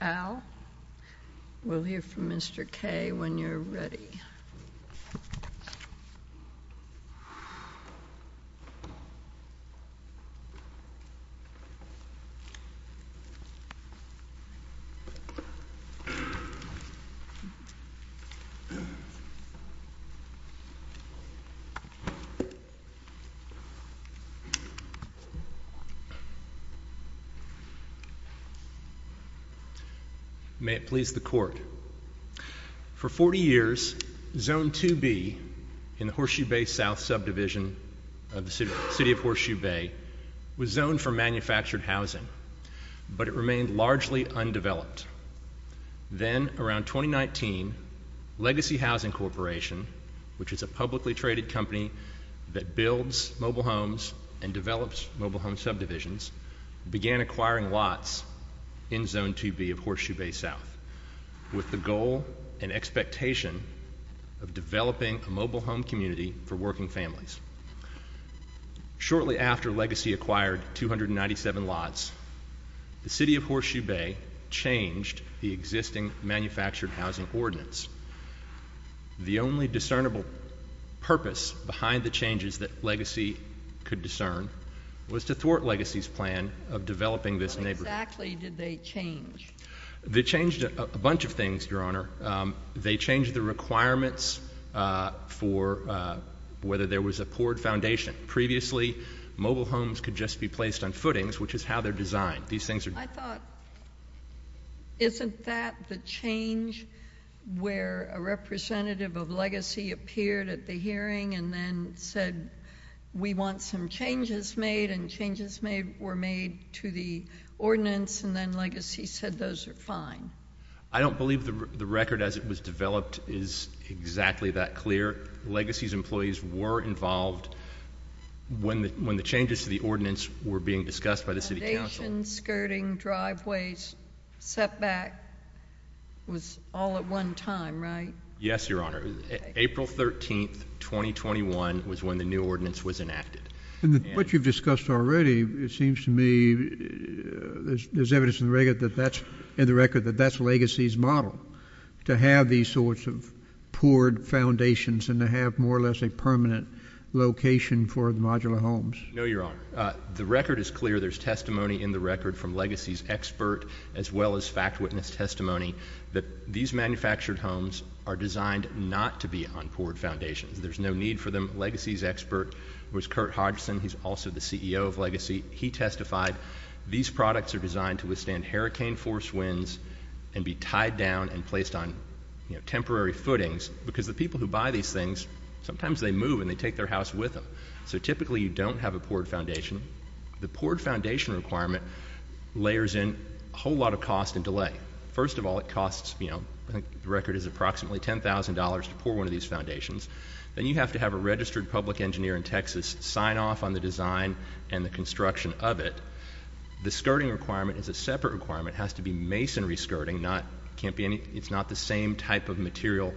Al, we'll hear from Mr. K when you're ready. May it please the court. For 40 years, Zone 2B in the Horseshoe Bay South Subdivision of the City of Horseshoe Bay was zoned for manufactured housing, but it remained largely undeveloped. Then, around 2019, Legacy Housing Corporation, which is a publicly traded company that builds mobile homes and develops mobile home subdivisions, began acquiring lots in Zone 2B of Horseshoe Bay South with the goal and expectation of developing a mobile home community for working families. Shortly after Legacy acquired 297 lots, the City of Horseshoe Bay changed the existing manufactured housing ordinance. The only discernible purpose behind the changes that Legacy could discern was to thwart Legacy's plan of developing this neighborhood. How exactly did they change? They changed a bunch of things, Your Honor. They changed the requirements for whether there was a poured foundation. Previously, mobile homes could just be placed on footings, which is how they're designed. These things are— I thought, isn't that the change where a representative of Legacy appeared at the hearing and then said, we want some changes made, and changes were made to the ordinance and then Legacy said those are fine? I don't believe the record as it was developed is exactly that clear. Legacy's employees were involved when the changes to the ordinance were being discussed by the City Council. Foundation, skirting, driveways, setback was all at one time, right? Yes, Your Honor. April 13, 2021 was when the new ordinance was enacted. What you've discussed already, it seems to me, there's evidence in the record that that's Legacy's model, to have these sorts of poured foundations and to have more or less a permanent location for the modular homes. No, Your Honor. The record is clear. There's testimony in the record from Legacy's expert as well as fact witness testimony that these manufactured homes are designed not to be on poured foundations. There's no need for them. Legacy's expert was Kurt Hodgson. He's also the CEO of Legacy. He testified these products are designed to withstand hurricane force winds and be tied down and placed on temporary footings because the people who buy these things, sometimes they move and they take their house with them. So typically you don't have a poured foundation. The poured foundation requirement layers in a whole lot of cost and delay. First of all, it costs, you know, I think the record is approximately $10,000 to pour one of these foundations. Then you have to have a registered public engineer in Texas sign off on the design and the construction of it. The skirting requirement is a separate requirement. It has to be masonry skirting. It's not the same type of material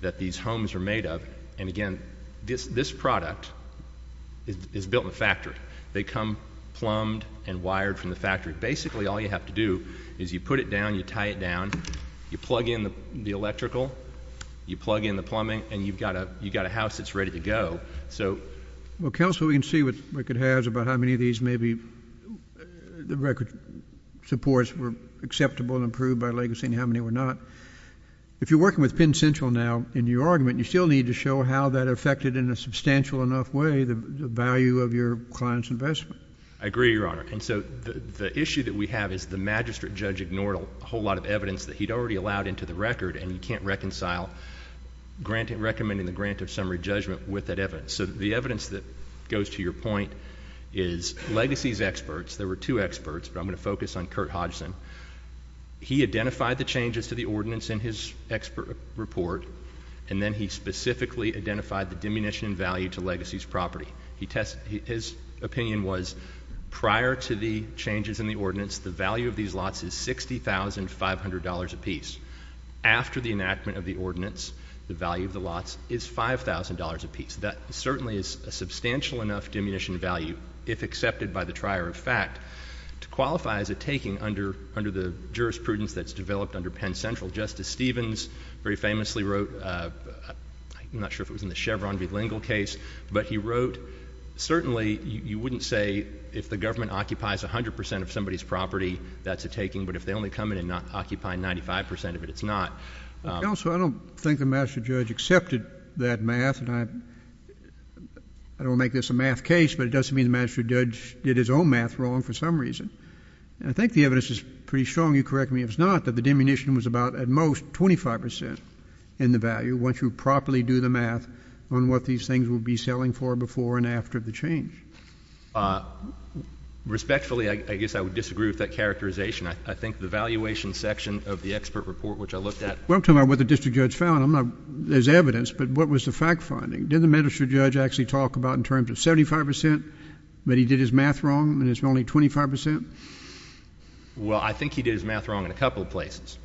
that these homes are made of. And again, this product is built in a factory. They come plumbed and wired from the factory. Basically all you have to do is you put it down, you tie it down, you plug in the electrical, you plug in the plumbing, and you've got a house that's ready to go. Well, counsel, we can see what the record has about how many of these maybe the record supports were acceptable and approved by legacy and how many were not. If you're working with Penn Central now in your argument, you still need to show how that affected in a substantial enough way the value of your client's investment. I agree, Your Honor. And so the issue that we have is the magistrate judge ignored a whole lot of evidence that he'd already allowed into the record and he can't reconcile recommending the grant of summary judgment with that evidence. So the evidence that goes to your point is legacy's experts. There were two experts, but I'm going to focus on Kurt Hodgson. He identified the changes to the ordinance in his expert report, and then he specifically identified the diminution in value to legacy's property. His opinion was prior to the changes in the ordinance, the value of these lots is $60,500 apiece. After the enactment of the ordinance, the value of the lots is $5,000 apiece. That certainly is a substantial enough diminution in value, if accepted by the trier of fact, to qualify as a taking under the jurisprudence that's developed under Penn Central. Justice Stevens very famously wrote, I'm not sure if it was in the Chevron v. Lingle case, but he wrote, certainly you wouldn't say if the government occupies 100 percent of somebody's property, that's a taking, but if they only come in and occupy 95 percent of it, it's not. Counsel, I don't think the magistrate judge accepted that math, and I don't want to make this a math case, but it doesn't mean the magistrate judge did his own math wrong for some reason. And I think the evidence is pretty strong, you correct me if it's not, that the diminution was about, at most, 25 percent in the value, once you properly do the math on what these things would be selling for before and after the change. Respectfully, I guess I would disagree with that characterization. I think the valuation section of the expert report, which I looked at... Well, I'm talking about what the district judge found. I'm not... there's evidence, but what was the fact finding? Didn't the magistrate judge actually talk about in terms of 75 percent, but he did his math wrong, and it's only 25 percent? Well, I think he did his math wrong in a couple of places.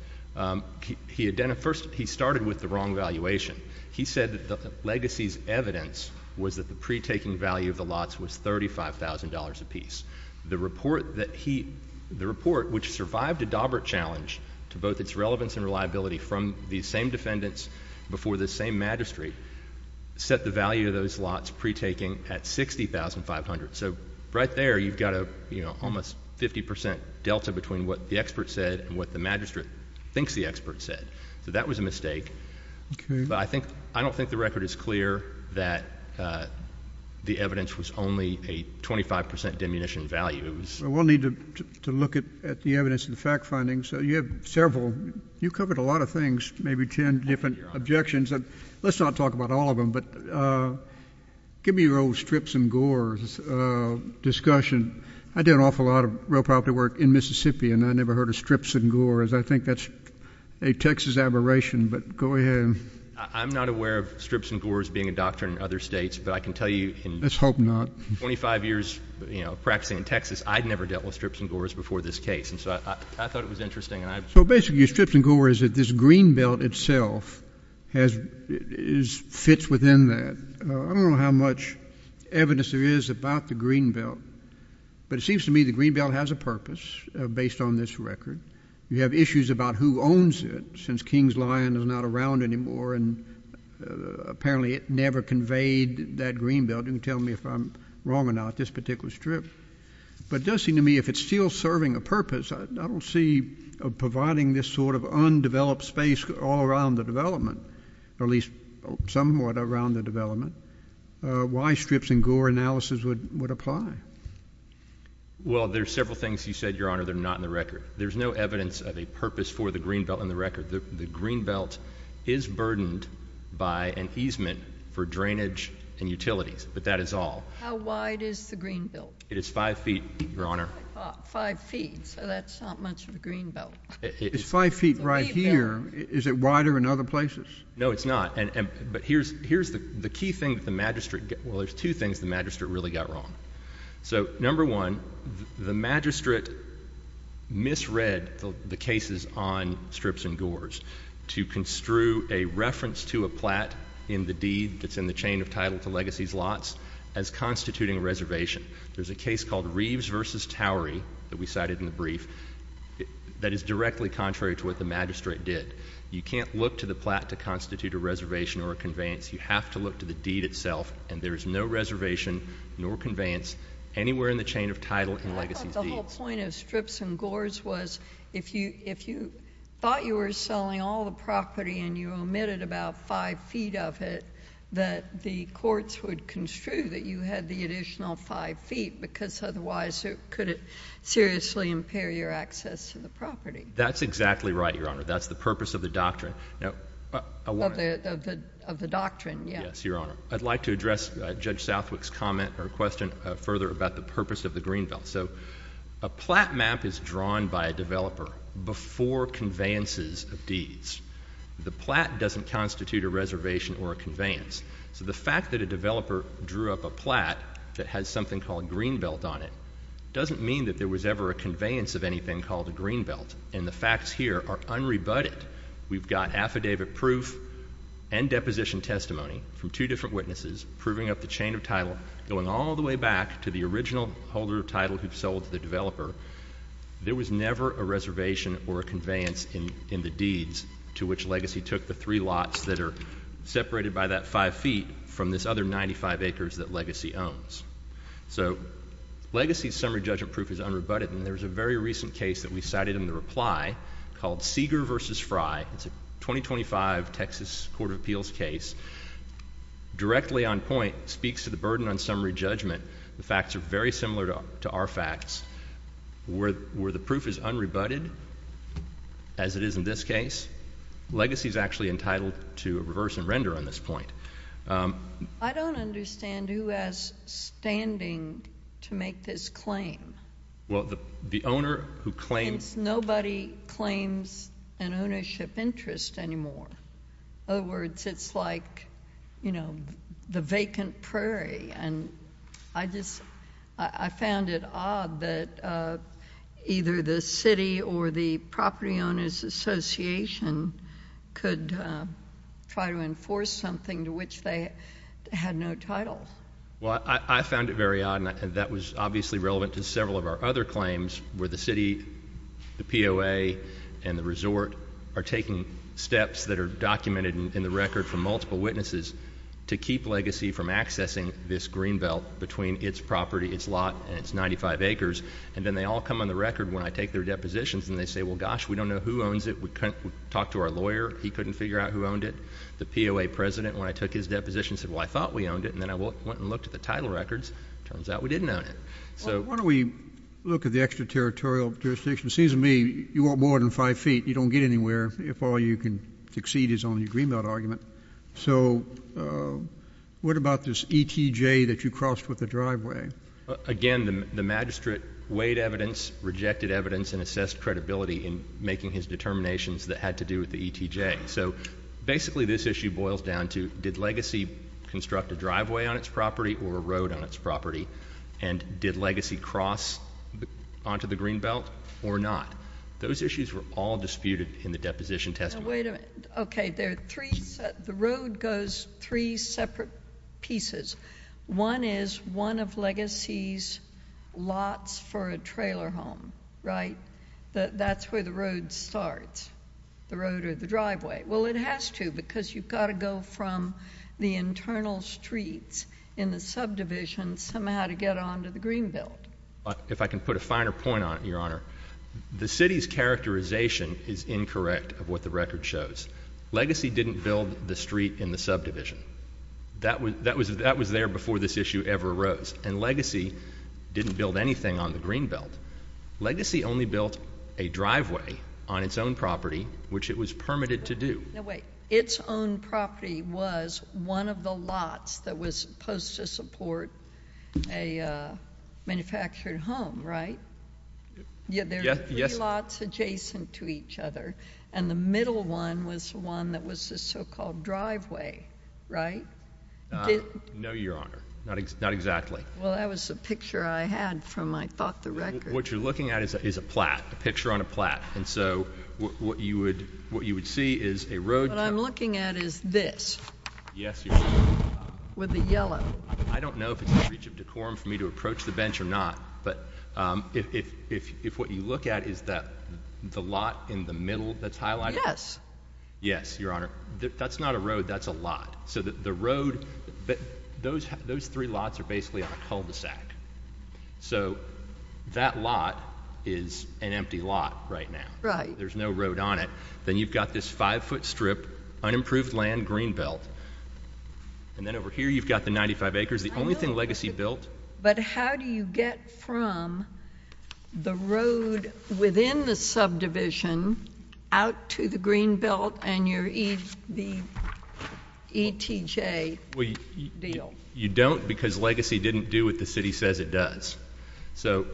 He had done a... first, he started with the wrong valuation. He said that the legacy's evidence was that the pre-taking value of the lots was $35,000 apiece. The report that he... the report, which survived a Daubert challenge, to both its relevance and reliability from the same defendants before the same magistrate, set the value of those lots pre-taking at $60,500. So right there, you've got a, you know, almost 50 percent delta between what the expert said and what the magistrate thinks the expert said. So that was a mistake. Okay. But I think... I don't think the record is clear that the evidence was only a 25 percent diminution value. Well, we'll need to look at the evidence and the fact findings. You have several... you covered a lot of things, maybe 10 different objections. Let's not talk about all of them, but give me your old strips and gores discussion. I did an awful lot of real property work in Mississippi, and I never heard of strips and gores. I think that's a Texas aberration, but go ahead. I'm not aware of strips and gores being a doctrine in other states, but I can tell you... Let's hope not.... 25 years, you know, practicing in Texas, I'd never dealt with strips and gores before this case, and so I thought it was interesting, and I... So basically, your strips and gore is that this green belt itself has... is... fits within that. I don't know how much evidence there is about the green belt, but it seems to me the green belt has a purpose based on this record. You have issues about who owns it since King's Lion is not around anymore, and apparently it never conveyed that green belt. You can tell me if I'm wrong or not, this particular strip. But it does seem to me if it's still serving a purpose, I don't see providing this sort of undeveloped space all around the development, or at least somewhat around the development, why strips and gore analysis would apply. Well, there's several things you said, Your Honor, that are not in the record. There's no evidence of a purpose for the green belt in the record. The green belt is burdened by an easement for drainage and utilities, but that is all. How wide is the green belt? It is five feet, Your Honor. Five feet, so that's not much of a green belt. It's five feet right here. Is it wider in other places? No, it's not. But here's the key thing that the magistrate... well, there's two things the magistrate really got wrong. So, number one, the magistrate misread the cases on strips and gores to construe a reference to a plat in the deed that's in the chain of title to legacies lots as constituting a reservation. There's a case called Reeves v. Towery that we cited in the brief that is directly contrary to what the magistrate did. You can't look to the plat to constitute a reservation or a conveyance. You have to look to the deed itself, and there is no reservation nor conveyance anywhere in the chain of title in legacies deeds. But the whole point of strips and gores was, if you thought you were selling all the property and you omitted about five feet of it, that the courts would construe that you had the additional five feet, because otherwise it could seriously impair your access to the That's exactly right, Your Honor. That's the purpose of the doctrine. Of the doctrine, yes. Yes, Your Honor. I'd like to address Judge Southwick's comment or question further about the purpose of the green belt. So a plat map is drawn by a developer before conveyances of deeds. The plat doesn't constitute a reservation or a conveyance. So the fact that a developer drew up a plat that has something called green belt on it doesn't mean that there was ever a conveyance of anything called a green belt, and the facts here are unrebutted. We've got affidavit proof and deposition testimony from two different witnesses proving up the chain of title, going all the way back to the original holder of title who sold to the developer. There was never a reservation or a conveyance in the deeds to which Legacy took the three lots that are separated by that five feet from this other 95 acres that Legacy owns. So Legacy's summary judgment proof is unrebutted, and there's a very recent case that we cited in the reply called Seeger v. Fry. It's a 2025 Texas Court of Appeals case. Directly on point, speaks to the burden on summary judgment. The facts are very similar to our facts. Where the proof is unrebutted, as it is in this case, Legacy's actually entitled to a reverse and render on this point. I don't understand who has standing to make this claim. Well, the owner who claims Nobody claims an ownership interest anymore. In other words, it's like, you know, the vacant prairie. And I just, I found it odd that either the city or the property owners association could try to enforce something to which they had no title. Well, I found it very odd, and that was obviously relevant to several of our other claims, where the city, the POA, and the resort are taking steps that are documented in the record from multiple witnesses to keep Legacy from accessing this greenbelt between its property, its lot, and its 95 acres. And then they all come on the record when I take their depositions and they say, well, gosh, we don't know who owns it. We talked to our lawyer. He couldn't figure out who owned it. The POA president, when I took his deposition, said, well, I thought we owned it. And then I went and looked at the title records. Turns out we didn't own it. Why don't we look at the extraterritorial jurisdiction? It seems to me you want more than five feet. You don't get anywhere if all you can succeed is on your greenbelt argument. So what about this ETJ that you crossed with the driveway? Again, the magistrate weighed evidence, rejected evidence, and assessed credibility in making his determinations that had to do with the ETJ. So basically this issue boils down to, did Legacy construct a driveway on its property or a road on its property? And did Legacy cross onto the greenbelt or not? Those issues were all disputed in the deposition testimony. Wait a minute. Okay, the road goes three separate pieces. One is one of Legacy's lots for a trailer home, right? That's where the road starts, the road or the driveway. Well, it has to because you've got to go from the internal streets in the subdivision somehow to get onto the greenbelt. If I can put a finer point on it, Your Honor, the city's characterization is incorrect of what the record shows. Legacy didn't build the street in the subdivision. That was there before this issue ever arose. And Legacy didn't build anything on the greenbelt. Legacy only built a driveway on its own property, which it was permitted to do. No, wait. Its own property was one of the lots that was supposed to support a manufactured home, right? Yeah, there were three lots adjacent to each other, and the middle one was the one that was the so-called driveway, right? No, Your Honor. Not exactly. Well, that was the picture I had from my thought, the record. What you're looking at is a plat, a picture on a plat. And so what you would see is a road... What I'm looking at is this. Yes, Your Honor. With the yellow. I don't know if it's in the reach of decorum for me to approach the bench or not, but if what you look at is that the lot in the middle that's highlighted... Yes, Your Honor. That's not a road. That's a lot. So the road, those three lots are basically a cul-de-sac. So that lot is an empty lot right now. Right. There's no road on it. Then you've got this five-foot strip, unimproved land, green belt. And then over here you've got the 95 acres. The only thing Legacy built... But how do you get from the road within the subdivision out to the green belt and your ETJ deal? You don't because Legacy didn't do what the city says it does. So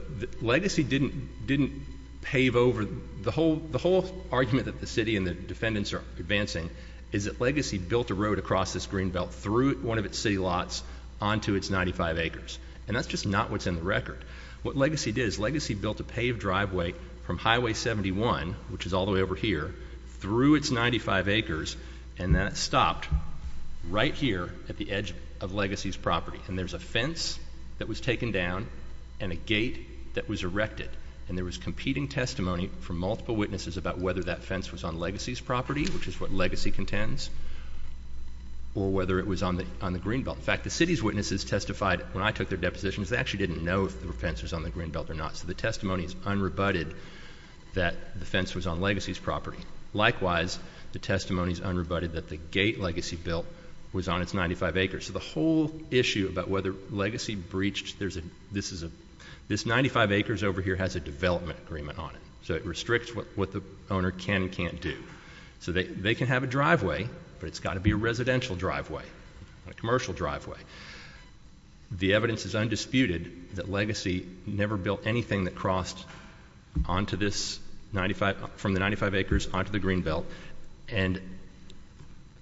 Legacy didn't pave over... The whole argument that the city and the defendants are advancing is that Legacy built a road across this green belt through one of its city lots onto its 95 acres. And that's just not what's in the record. What Legacy did is Legacy built a paved driveway from Highway 71, which is all the way over here, through its 95 acres, and then it stopped right here at the edge of Legacy's property. And there's a fence that was taken down and a gate that was erected. And there was competing testimony from multiple witnesses about whether that fence was on Legacy's property, which is what Legacy contends, or whether it was on the green belt. In fact, the city's witnesses testified when I took their depositions, they actually didn't know if the fence was on the green belt or not. So the testimony is unrebutted that the fence was on Legacy's property. Likewise, the testimony is unrebutted that the gate was on the 95 acres. So the whole issue about whether Legacy breached... This 95 acres over here has a development agreement on it. So it restricts what the owner can and can't do. So they can have a driveway, but it's got to be a residential driveway, not a commercial driveway. The evidence is undisputed that Legacy never built anything that crossed onto this 95... from the 95 acres onto the green belt. And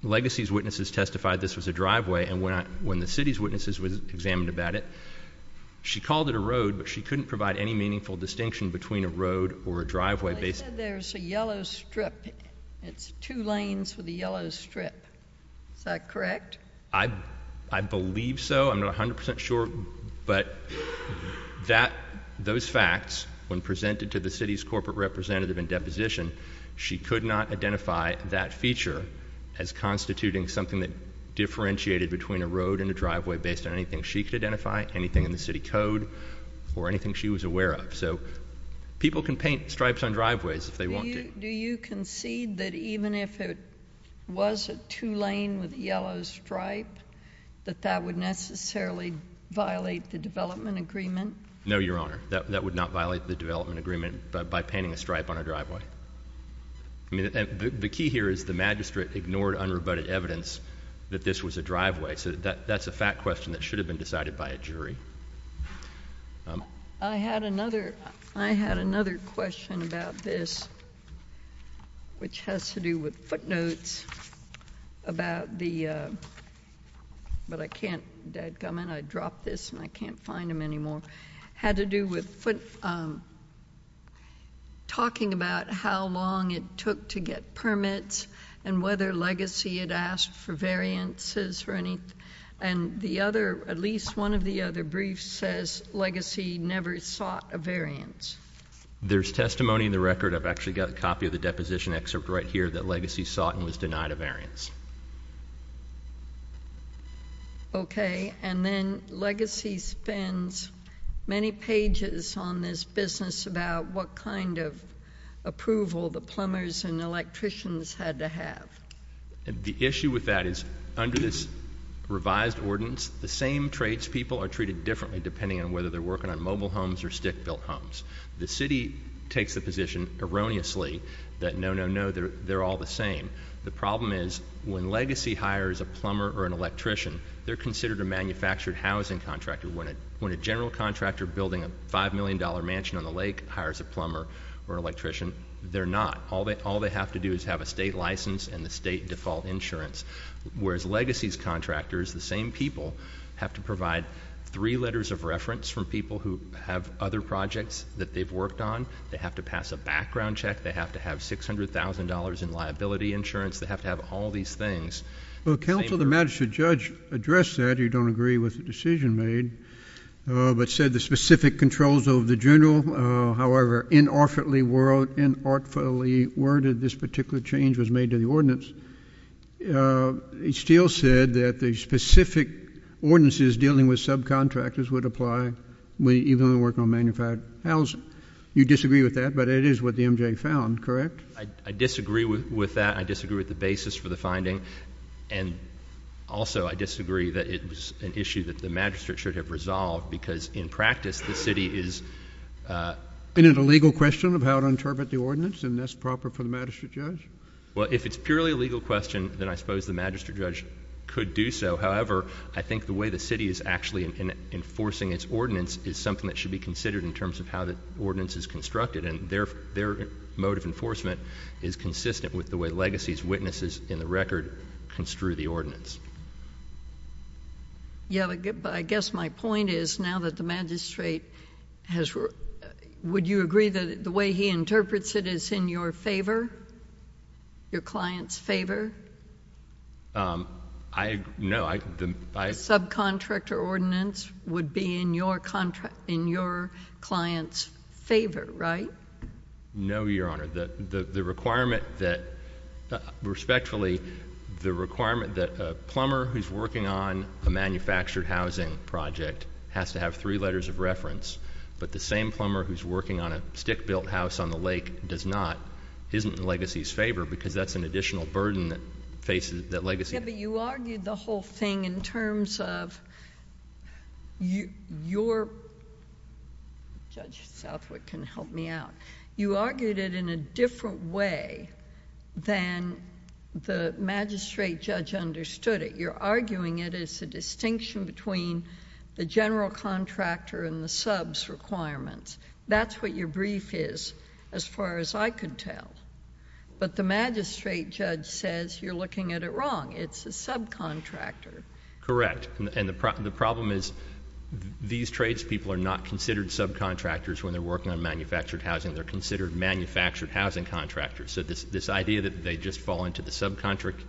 Legacy's witnesses testified this was a driveway, and when the city's witnesses examined about it, she called it a road, but she couldn't provide any meaningful distinction between a road or a driveway. They said there's a yellow strip. It's two lanes with a yellow strip. Is that correct? I believe so. I'm not 100 percent sure, but those facts, when presented to the city's corporate representative in deposition, she could not identify that feature as constituting something that differentiated between a road and a driveway based on anything she could identify, anything in the city code, or anything she was aware of. So people can paint stripes on driveways if they want to. Do you concede that even if it was a two lane with a yellow stripe, that that would necessarily violate the development agreement? No, Your Honor. That would not violate the development agreement by painting a stripe on a driveway. I mean, the key here is the magistrate ignored unrebutted evidence that this was a driveway. So that's a fact question that should have been decided by a jury. I had another question about this, which has to do with footnotes about the... but I can't... I dropped this and I can't find them anymore. Had to do with talking about how long it took to get permits and whether Legacy had asked for variances for any... and the other, at least one of the other briefs says Legacy never sought a variance. There's testimony in the record. I've actually got a copy of the deposition excerpt right here that Legacy sought and was denied a variance. Okay. And then Legacy spends many pages on this business about what kind of approval the plumbers and electricians had to have. The issue with that is under this revised ordinance, the same traits people are treated differently depending on whether they're working on mobile homes or stick built homes. The problem is when Legacy hires a plumber or an electrician, they're considered a manufactured housing contractor. When a general contractor building a $5 million mansion on the lake hires a plumber or an electrician, they're not. All they have to do is have a state license and the state default insurance. Whereas Legacy's contractors, the same people, have to provide three letters of reference from people who have other projects that they've worked on. They have to pass a background check. They have to have $600,000 in liability insurance. They have to have all these things. Well, counsel, the magistrate judge addressed that. He don't agree with the decision made, but said the specific controls over the general, however, inartfully worded this particular change was made to the ordinance. He still said that the specific ordinances dealing with subcontractors would apply even if they're working on manufactured housing. You disagree with that, but it is what the M.J. found, correct? I disagree with that. I disagree with the basis for the finding. And also, I disagree that it was an issue that the magistrate should have resolved because, in practice, the city is— Isn't it a legal question of how to interpret the ordinance and that's proper for the magistrate judge? Well, if it's purely a legal question, then I suppose the magistrate judge could do so. However, I think the way the city is actually enforcing its ordinance is something that should be considered in terms of how the ordinance is constructed, and their mode of enforcement is consistent with the way legacies, witnesses, and the record construe the ordinance. Yeah, but I guess my point is, now that the magistrate has—would you agree that the way he interprets it is in your favor, your client's favor? I—no, I— Your subcontractor ordinance would be in your client's favor, right? No, Your Honor. The requirement that—respectfully, the requirement that a plumber who's working on a manufactured housing project has to have three letters of reference, but the same plumber who's working on a stick-built house on the lake does not, isn't in the legacy's favor because that's an additional burden that faces that legacy. Yeah, but you argued the whole thing in terms of your—Judge Southwick can help me out. You argued it in a different way than the magistrate judge understood it. You're arguing it as a distinction between the general contractor and the sub's requirements. That's what your brief is, as far as I could tell, but the magistrate judge says you're looking at it wrong. It's a subcontractor. Correct. And the problem is, these tradespeople are not considered subcontractors when they're working on manufactured housing. They're considered manufactured housing contractors. So this idea that they just fall into the subcontractor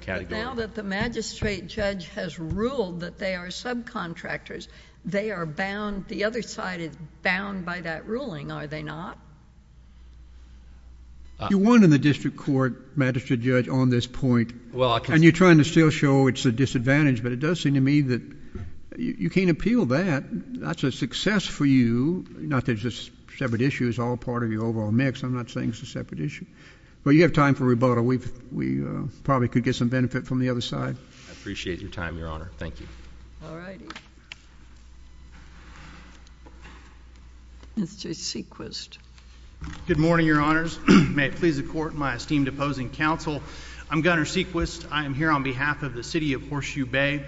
category— But now that the magistrate judge has ruled that they are subcontractors, they are bound—the other side is bound by that ruling, are they not? You won in the district court, magistrate judge, on this point. And you're trying to still show it's a disadvantage, but it does seem to me that you can't appeal that. That's a success for you. Not that it's a separate issue. It's all part of your overall mix. I'm not saying it's a separate issue. But you have time for rebuttal. We probably could get some benefit from the other side. I appreciate your time, Your Honor. Thank you. All righty. Mr. Sequist. Good morning, Your Honors. May it please the Court and my esteemed opposing counsel. I'm Gunner Sequist. I am here on behalf of the city of Horseshoe Bay.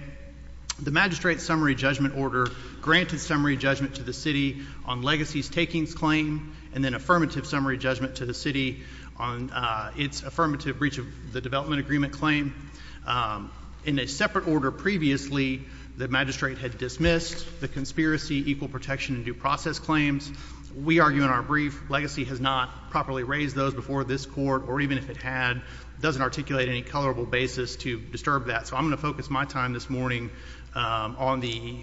The magistrate's summary judgment order granted summary judgment to the city on legacies takings claim, and then affirmative summary judgment to the city on its affirmative breach of the development agreement claim. In a separate order previously, the magistrate had dismissed the conspiracy, equal protection, and due process claims. We argue in our brief, legacy has not properly raised those before this Court, or even if it had, doesn't articulate any colorable basis to disturb that. So I'm going to focus my time this morning on the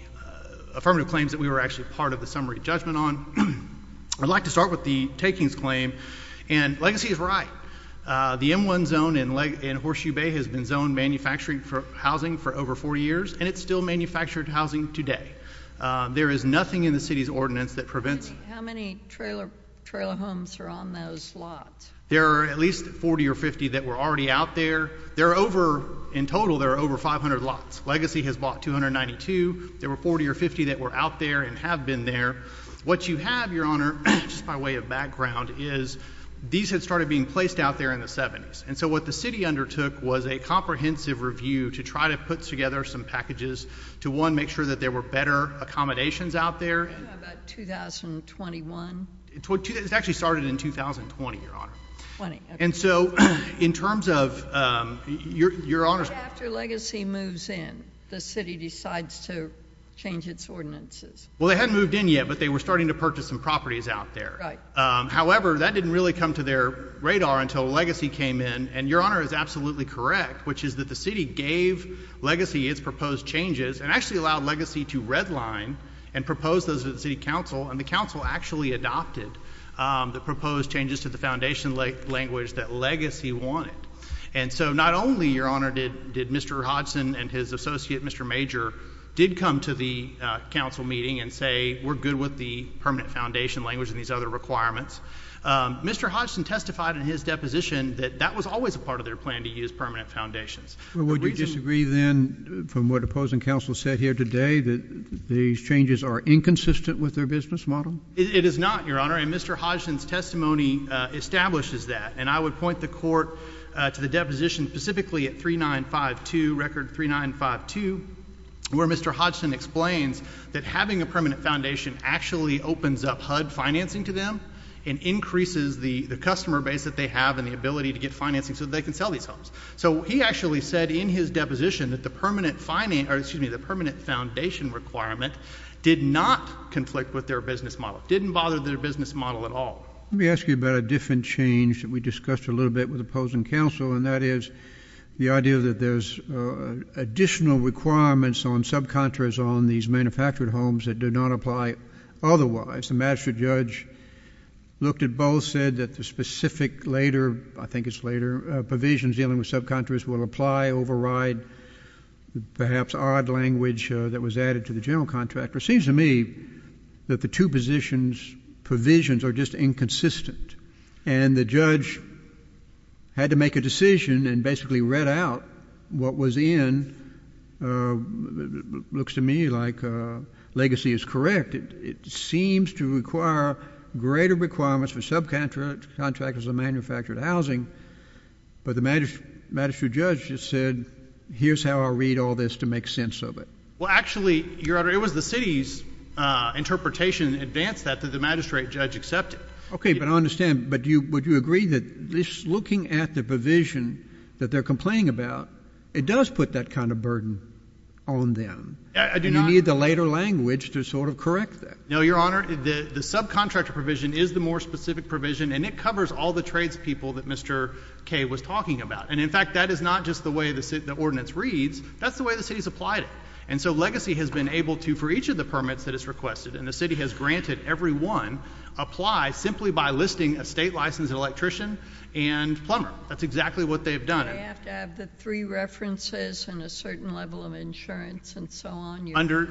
affirmative claims that we were actually part of the summary judgment on. I'd like to start with the takings claim. And legacy is right. The M-1 zone in Horseshoe Bay has been zoned manufacturing housing for over 40 years, and it's still manufactured housing today. There is nothing in the city's ordinance that prevents it. How many trailer homes are on those lots? There are at least 40 or 50 that were already out there. In total, there are over 500 lots. Legacy has bought 292. There were 40 or 50 that were out there and have been there. What you have, Your Honor, just by way of background, is these had started being placed out there in the 70s. And so what the city undertook was a comprehensive review to try to put together some packages to, one, make sure that there were better accommodations out there. Do you know about 2021? It actually started in 2020, Your Honor. 20, okay. And so in terms of Your Honor's— Right after Legacy moves in, the city decides to change its ordinances. Well, they hadn't moved in yet, but they were starting to purchase some properties out there. However, that didn't really come to their radar until Legacy came in. And Your Honor is absolutely correct, which is that the city gave Legacy its proposed changes and actually allowed Legacy to redline and propose those to the city council. And the council actually adopted the proposed changes to the foundation language that Legacy wanted. And so not only, Your Honor, did Mr. Hodgson and his associate, Mr. Major, did come to the council meeting and say, we're good with the permanent foundation language and these other requirements. Mr. Hodgson testified in his deposition that that was always a part of their plan to use permanent foundations. Would we disagree then from what opposing counsel said here today, that these changes are inconsistent with their business model? It is not, Your Honor. And Mr. Hodgson's testimony establishes that. And I would point the court to the deposition specifically at 3952, record 3952, where Mr. Hodgson explains that having a permanent foundation actually opens up HUD financing to them and increases the customer base that they have and the ability to get financing so that they can sell these homes. So he actually said in his deposition that the permanent foundation requirement did not conflict with their business model, didn't bother their business model at all. Let me ask you about a different change that we discussed a little bit with opposing counsel, and that is the idea that there's additional requirements on subcontractors on these manufactured homes that do not apply otherwise. The magistrate judge looked at both, said that the specific later, I think it's later, provisions dealing with subcontractors will apply, override perhaps odd language that was added to the general contract. But it seems to me that the two positions, provisions, are just inconsistent. And the judge had to make a decision and basically read out what was in, looks to me like legacy is correct. It seems to require greater requirements for subcontractors on manufactured housing. But the magistrate judge just said, here's how I'll read all this to make sense of it. Well, actually, Your Honor, it was the city's interpretation, advanced that, that the magistrate judge accepted. Okay, but I understand. But would you agree that just looking at the provision that they're complaining about, it does put that kind of burden on them? I do not. And you need the later language to sort of correct that. No, Your Honor. The subcontractor provision is the more specific provision, and it covers all the tradespeople that Mr. Kaye was talking about. And, in fact, that is not just the way the ordinance reads. That's the way the city's applied it. And so legacy has been able to, for each of the permits that it's requested, and the city has granted every one, apply simply by listing a state licensed electrician and plumber. That's exactly what they've done. You have to have the three references and a certain level of insurance and so on. Under,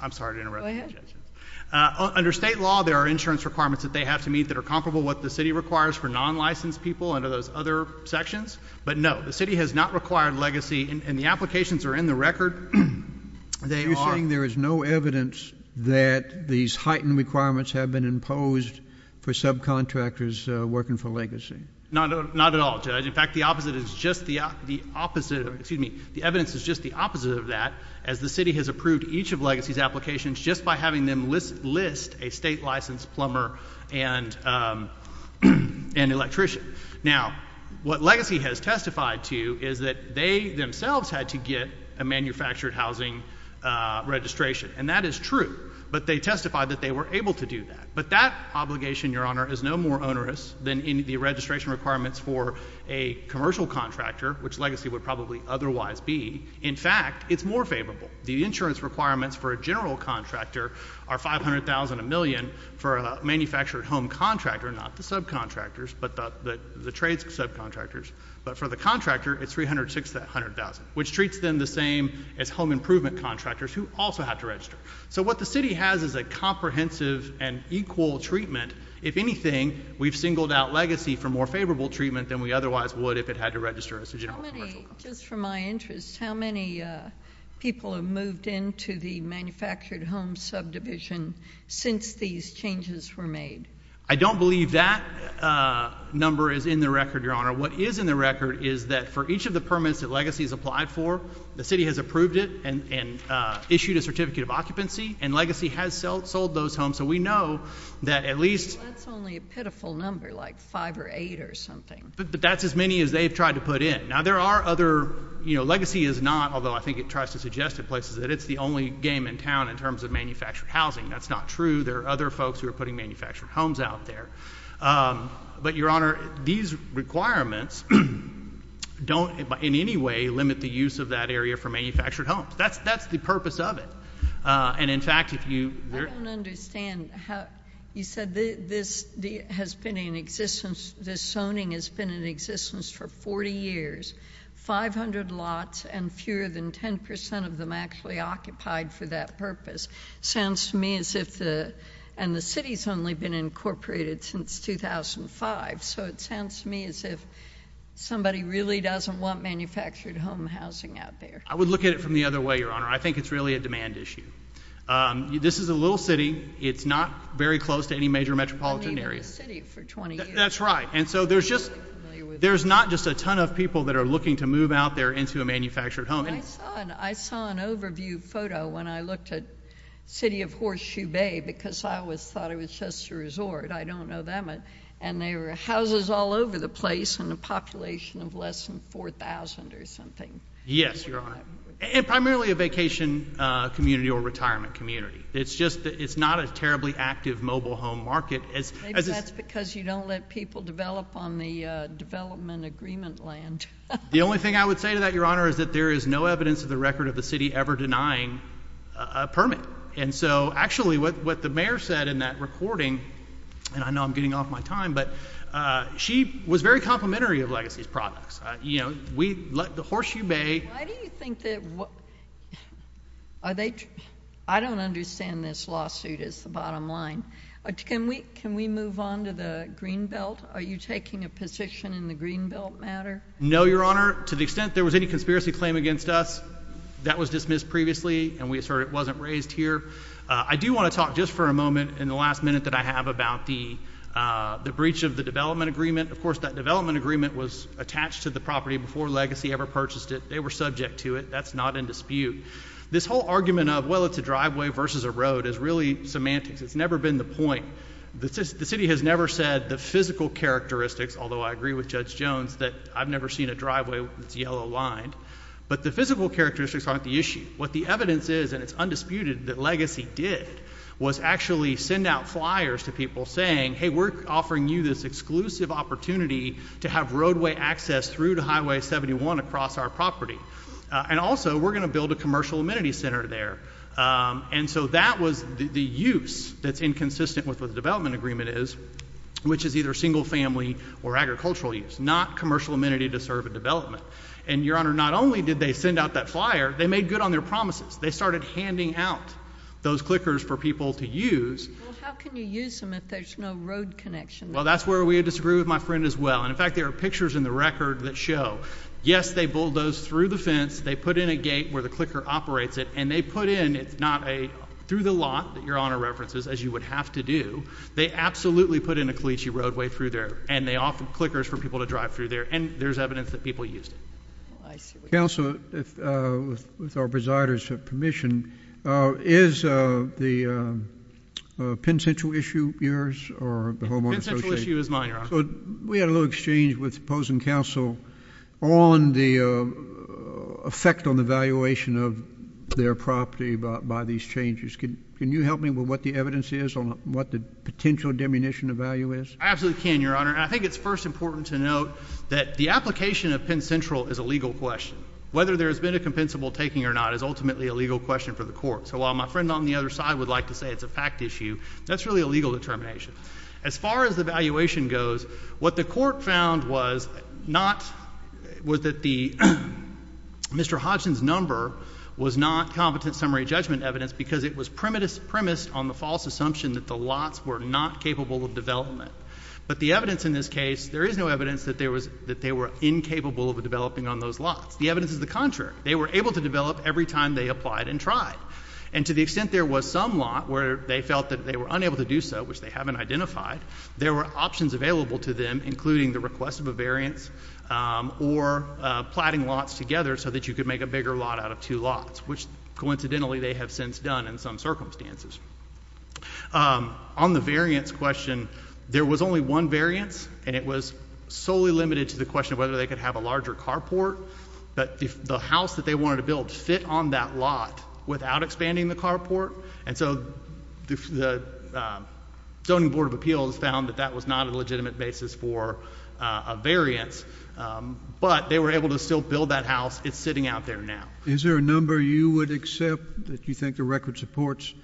I'm sorry to interrupt. Under state law, there are insurance requirements that they have to meet that are comparable to what the city requires for non-licensed people under those other sections. But, no, the city has not required legacy, and the applications are in the record. You're saying there is no evidence that these heightened requirements have been imposed for subcontractors working for legacy? Not at all, Judge. In fact, the opposite is just the opposite. Excuse me. The evidence is just the opposite of that, as the city has approved each of legacy's applications just by having them list a state licensed plumber and electrician. Now, what legacy has testified to is that they themselves had to get a manufactured housing registration, and that is true. But they testified that they were able to do that. But that obligation, Your Honor, is no more onerous than the registration requirements for a commercial contractor, which legacy would probably otherwise be. In fact, it's more favorable. The insurance requirements for a general contractor are $500,000 a million for a manufactured home contractor, not the subcontractors, but the trade subcontractors. But for the contractor, it's $306,000 to $100,000, which treats them the same as home improvement contractors who also have to register. So what the city has is a comprehensive and equal treatment. If anything, we've singled out legacy for more favorable treatment than we otherwise would if it had to register as a general commercial contractor. Just for my interest, how many people have moved into the manufactured home subdivision since these changes were made? I don't believe that number is in the record, Your Honor. What is in the record is that for each of the permits that legacy has applied for, the city has approved it and issued a certificate of occupancy, and legacy has sold those homes. So we know that at least— Well, that's only a pitiful number, like five or eight or something. But that's as many as they've tried to put in. Now, there are other—legacy is not, although I think it tries to suggest to places that it's the only game in town in terms of manufactured housing. That's not true. There are other folks who are putting manufactured homes out there. But, Your Honor, these requirements don't in any way limit the use of that area for manufactured homes. That's the purpose of it. And, in fact, if you— I don't understand. You said this zoning has been in existence for 40 years, 500 lots, and fewer than 10 percent of them actually occupied for that purpose. It sounds to me as if the—and the city's only been incorporated since 2005. So it sounds to me as if somebody really doesn't want manufactured home housing out there. I would look at it from the other way, Your Honor. I think it's really a demand issue. This is a little city. It's not very close to any major metropolitan area. I've been living in the city for 20 years. That's right. And so there's just— I'm not familiar with it. There's not just a ton of people that are looking to move out there into a manufactured home. I saw an overview photo when I looked at City of Horseshoe Bay because I always thought it was just a resort. I don't know that much. And there were houses all over the place and a population of less than 4,000 or something. Yes, Your Honor. And primarily a vacation community or retirement community. It's just that it's not a terribly active mobile home market. Maybe that's because you don't let people develop on the development agreement land. The only thing I would say to that, Your Honor, is that there is no evidence in the record of the city ever denying a permit. And so actually what the mayor said in that recording, and I know I'm getting off my time, but she was very complimentary of Legacy's products. You know, we—Horseshoe Bay— Why do you think that—I don't understand this lawsuit is the bottom line. Can we move on to the Greenbelt? Are you taking a position in the Greenbelt matter? No, Your Honor. To the extent there was any conspiracy claim against us, that was dismissed previously, and we assert it wasn't raised here. I do want to talk just for a moment in the last minute that I have about the breach of the development agreement. Of course, that development agreement was attached to the property before Legacy ever purchased it. They were subject to it. That's not in dispute. This whole argument of, well, it's a driveway versus a road is really semantics. It's never been the point. The city has never said the physical characteristics, although I agree with Judge Jones that I've never seen a driveway that's yellow-lined. But the physical characteristics aren't the issue. What the evidence is, and it's undisputed, that Legacy did was actually send out flyers to people saying, hey, we're offering you this exclusive opportunity to have roadway access through to Highway 71 across our property. And also, we're going to build a commercial amenity center there. And so that was the use that's inconsistent with what the development agreement is, which is either single-family or agricultural use, not commercial amenity to serve a development. And, Your Honor, not only did they send out that flyer, they made good on their promises. They started handing out those clickers for people to use. Well, how can you use them if there's no road connection? Well, that's where we disagree with my friend as well. And, in fact, there are pictures in the record that show, yes, they bulldozed through the fence. They put in a gate where the clicker operates it. And they put in, it's not a through-the-lot that Your Honor references, as you would have to do. They absolutely put in a cliche roadway through there. And they offered clickers for people to drive through there. And there's evidence that people used it. Counsel, with our presider's permission, is the Penn Central issue yours or the Homeowner's Association? The Penn Central issue is mine, Your Honor. We had a little exchange with opposing counsel on the effect on the valuation of their property by these changes. Can you help me with what the evidence is on what the potential diminution of value is? I absolutely can, Your Honor. And I think it's first important to note that the application of Penn Central is a legal question. Whether there has been a compensable taking or not is ultimately a legal question for the court. So while my friend on the other side would like to say it's a fact issue, that's really a legal determination. As far as the valuation goes, what the court found was not, was that Mr. Hodgson's number was not competent summary judgment evidence because it was premised on the false assumption that the lots were not capable of development. But the evidence in this case, there is no evidence that they were incapable of developing on those lots. The evidence is the contrary. They were able to develop every time they applied and tried. And to the extent there was some lot where they felt that they were unable to do so, which they haven't identified, there were options available to them, including the request of a variance, or platting lots together so that you could make a bigger lot out of two lots, which coincidentally they have since done in some circumstances. On the variance question, there was only one variance, and it was solely limited to the question of whether they could have a larger carport. But the house that they wanted to build fit on that lot without expanding the carport. And so the Zoning Board of Appeals found that that was not a legitimate basis for a variance. But they were able to still build that house. It's sitting out there now. Is there a number you would accept that you think the record supports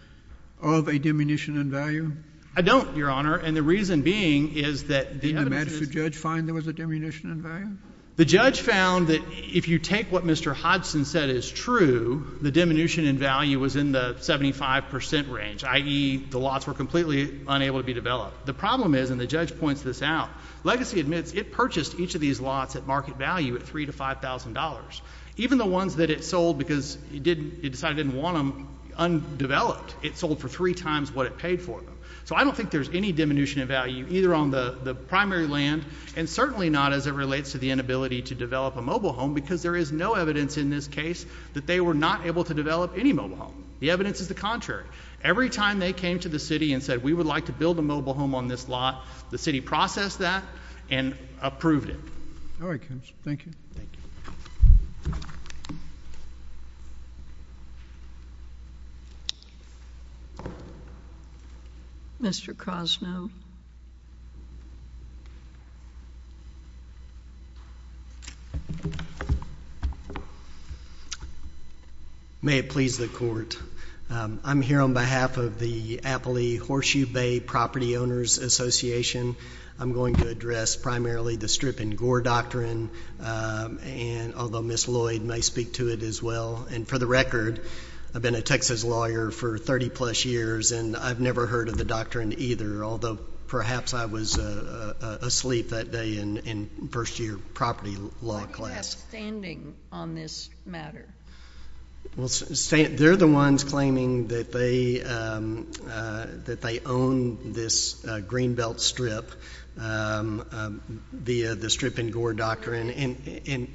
of a diminution in value? I don't, Your Honor. And the reason being is that the evidence is — Did the Madison judge find there was a diminution in value? The judge found that if you take what Mr. Hodgson said is true, the diminution in value was in the 75 percent range, i.e. the lots were completely unable to be developed. The problem is, and the judge points this out, Legacy admits it purchased each of these lots at market value at $3,000 to $5,000. Even the ones that it sold because it decided it didn't want them undeveloped, it sold for three times what it paid for them. So I don't think there's any diminution in value either on the primary land and certainly not as it relates to the inability to develop a mobile home because there is no evidence in this case that they were not able to develop any mobile home. The evidence is the contrary. Every time they came to the city and said we would like to build a mobile home on this lot, the city processed that and approved it. All right, counsel. Thank you. Thank you. Mr. Krosnow. May it please the court. I'm here on behalf of the Applee Horseshoe Bay Property Owners Association. I'm going to address primarily the Strip and Gore Doctrine, although Ms. Lloyd may speak to it as well. For the record, I've been a Texas lawyer for 30-plus years, and I've never heard of the doctrine either, although perhaps I was asleep that day in first-year property law class. Why do you have standing on this matter? They're the ones claiming that they own this Greenbelt Strip via the Strip and Gore Doctrine. And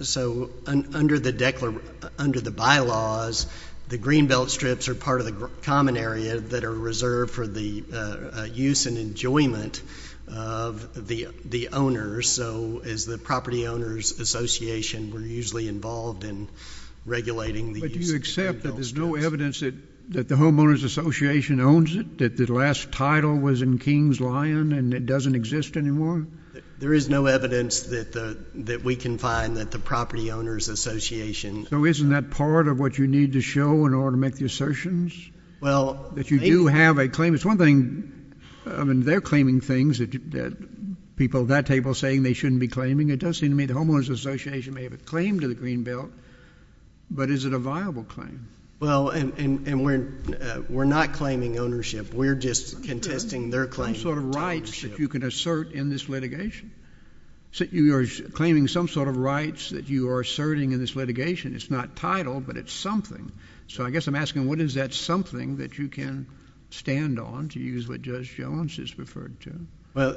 so under the bylaws, the Greenbelt Strips are part of the common area that are reserved for the use and enjoyment of the owners. So as the Property Owners Association, we're usually involved in regulating the use of the Greenbelt Strips. But do you accept that there's no evidence that the Homeowners Association owns it, that the last title was in King's Lion and it doesn't exist anymore? There is no evidence that we can find that the Property Owners Association owns it. So isn't that part of what you need to show in order to make the assertions? Well, maybe. That you do have a claim. It's one thing, I mean, they're claiming things that people at that table are saying they shouldn't be claiming. It does seem to me the Homeowners Association may have a claim to the Greenbelt, but is it a viable claim? Well, and we're not claiming ownership. We're just contesting their claim. Some sort of rights that you can assert in this litigation. You are claiming some sort of rights that you are asserting in this litigation. It's not title, but it's something. So I guess I'm asking what is that something that you can stand on to use what Judge Jones has referred to? Well,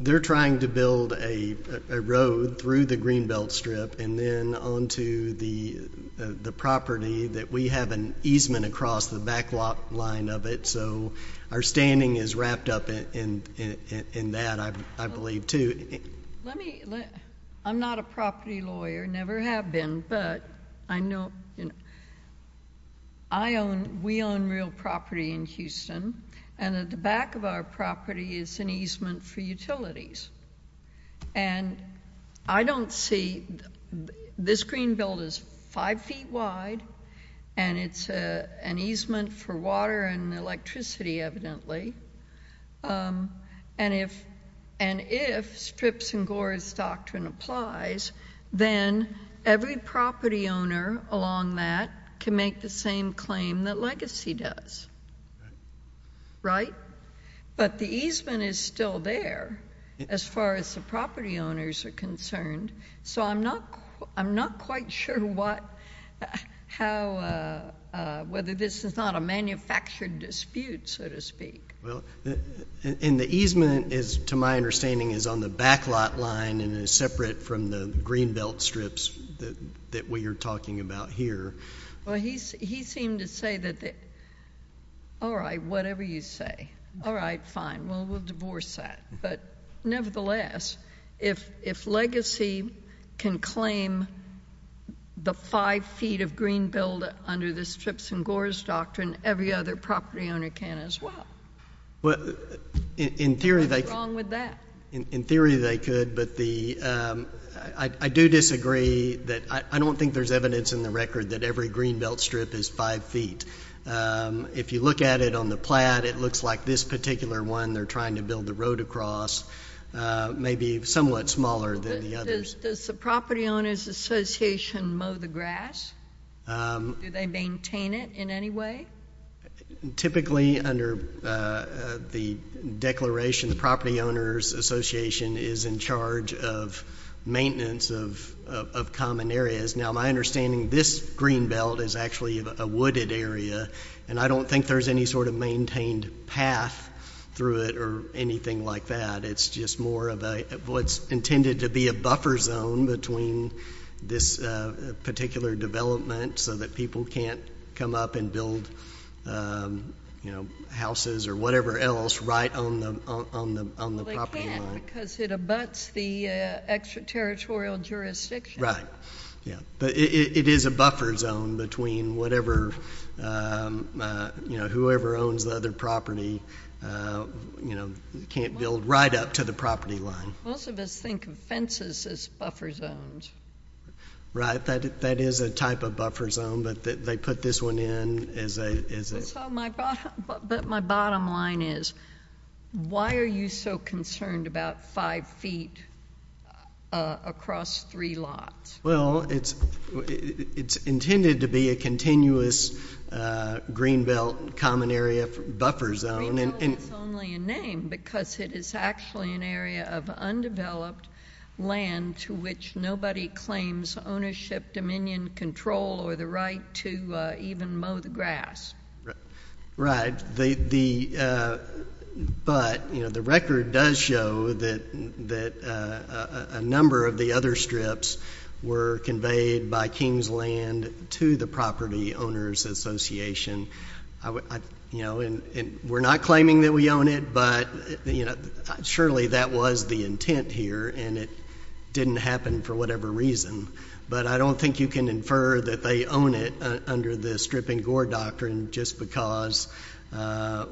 they're trying to build a road through the Greenbelt Strip and then on to the property that we have an easement across the back lot line of it. So our standing is wrapped up in that, I believe, too. I'm not a property lawyer, never have been, but I know we own real property in Houston. And at the back of our property is an easement for utilities. And I don't see this Greenbelt is five feet wide, and it's an easement for water and electricity, evidently. And if Strip's and Gore's doctrine applies, then every property owner along that can make the same claim that Legacy does. Right? But the easement is still there as far as the property owners are concerned. So I'm not quite sure whether this is not a manufactured dispute, so to speak. Well, and the easement, to my understanding, is on the back lot line and is separate from the Greenbelt Strips that we are talking about here. Well, he seemed to say that, all right, whatever you say. All right, fine. Well, we'll divorce that. But nevertheless, if Legacy can claim the five feet of Greenbelt under the Strip's and Gore's doctrine, every other property owner can as well. What's wrong with that? In theory they could, but I do disagree. I don't think there's evidence in the record that every Greenbelt Strip is five feet. If you look at it on the plat, it looks like this particular one they're trying to build the road across may be somewhat smaller than the others. Does the Property Owners Association mow the grass? Do they maintain it in any way? Typically under the declaration, the Property Owners Association is in charge of maintenance of common areas. Now, my understanding, this Greenbelt is actually a wooded area, and I don't think there's any sort of maintained path through it or anything like that. It's just more of what's intended to be a buffer zone between this particular development so that people can't come up and build houses or whatever else right on the property line. Well, they can't because it abuts the extraterritorial jurisdiction. Right. It is a buffer zone between whoever owns the other property can't build right up to the property line. Most of us think of fences as buffer zones. Right. That is a type of buffer zone, but they put this one in. But my bottom line is why are you so concerned about five feet across three lots? Well, it's intended to be a continuous Greenbelt common area buffer zone. Greenbelt is only a name because it is actually an area of undeveloped land to which nobody claims ownership, dominion, control, or the right to even mow the grass. Right. But, you know, the record does show that a number of the other strips were conveyed by King's Land to the Property Owners Association. We're not claiming that we own it, but, you know, surely that was the intent here, and it didn't happen for whatever reason. But I don't think you can infer that they own it under the stripping gore doctrine just because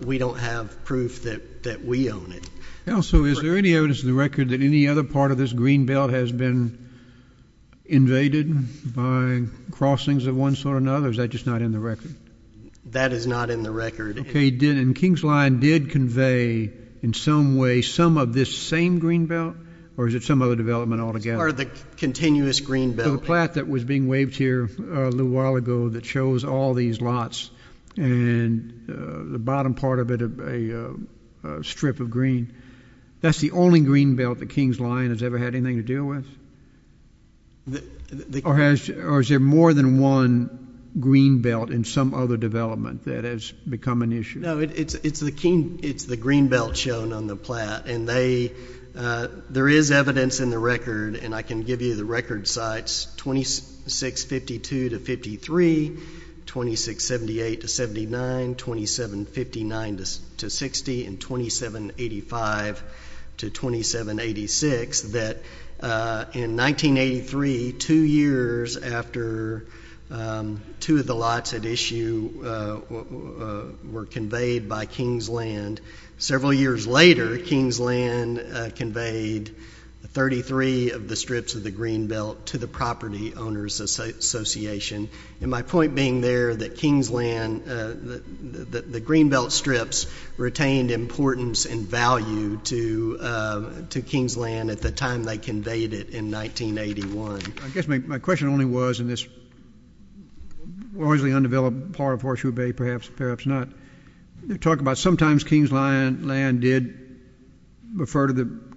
we don't have proof that we own it. Also, is there any evidence in the record that any other part of this Greenbelt has been invaded by crossings of one sort or another, or is that just not in the record? That is not in the record. Okay. And King's Land did convey in some way some of this same Greenbelt, or is it some other development altogether? It's part of the continuous Greenbelt. The plot that was being waived here a little while ago that shows all these lots and the bottom part of it a strip of green, that's the only Greenbelt that King's Land has ever had anything to deal with? Or is there more than one Greenbelt in some other development that has become an issue? No, it's the Greenbelt shown on the plat, and there is evidence in the record, and I can give you the record sites, 2652 to 53, 2678 to 79, 2759 to 60, and 2785 to 2786, that in 1983, two years after two of the lots at issue were conveyed by King's Land, several years later King's Land conveyed 33 of the strips of the Greenbelt to the Property Owners Association. And my point being there that King's Land, the Greenbelt strips retained importance and value to King's Land at the time they conveyed it in 1981. I guess my question only was in this largely undeveloped part of Horseshoe Bay, perhaps not, talk about sometimes King's Land did refer to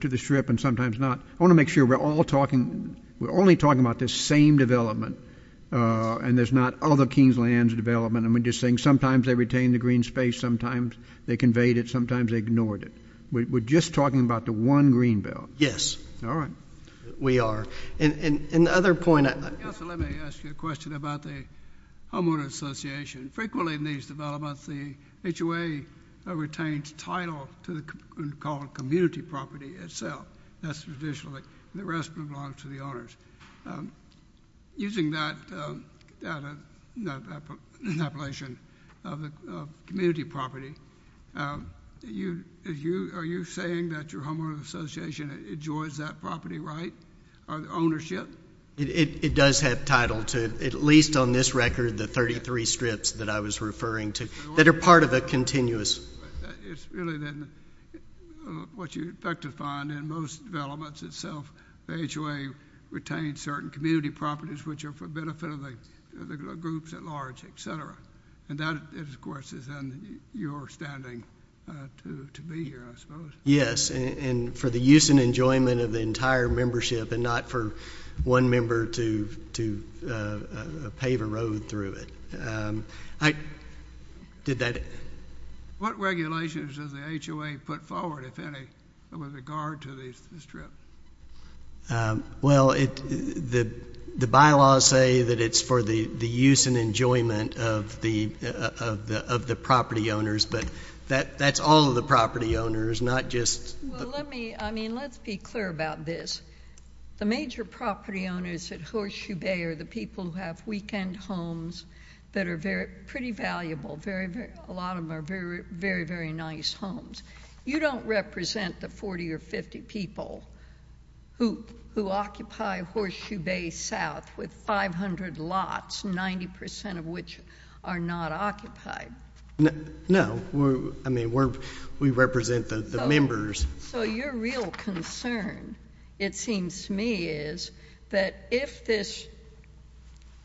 the strip and sometimes not. I want to make sure we're all talking, we're only talking about this same development, and there's not other King's Lands development, and we're just saying sometimes they retained the green space, sometimes they conveyed it, sometimes they ignored it. We're just talking about the one Greenbelt. Yes. All right. We are. And the other point. Let me ask you a question about the Homeowner Association. Frequently in these developments the HOA retains title to the community property itself. That's traditional. The rest belong to the owners. Using that appellation of the community property, are you saying that your Homeowner Association enjoys that property right, or the ownership? It does have title to at least on this record the 33 strips that I was referring to that are part of a continuous. It's really then what you'd like to find in most developments itself, the HOA retains certain community properties which are for benefit of the groups at large, et cetera. And that, of course, is then your standing to be here, I suppose. Yes, and for the use and enjoyment of the entire membership and not for one member to pave a road through it. Did that? What regulations does the HOA put forward, if any, with regard to the strip? Well, the bylaws say that it's for the use and enjoyment of the property owners, but that's all of the property owners, not just. Well, let's be clear about this. The major property owners at Horseshoe Bay are the people who have weekend homes that are pretty valuable. A lot of them are very, very nice homes. You don't represent the 40 or 50 people who occupy Horseshoe Bay South with 500 lots, 90% of which are not occupied. No. I mean, we represent the members. So your real concern, it seems to me, is that if this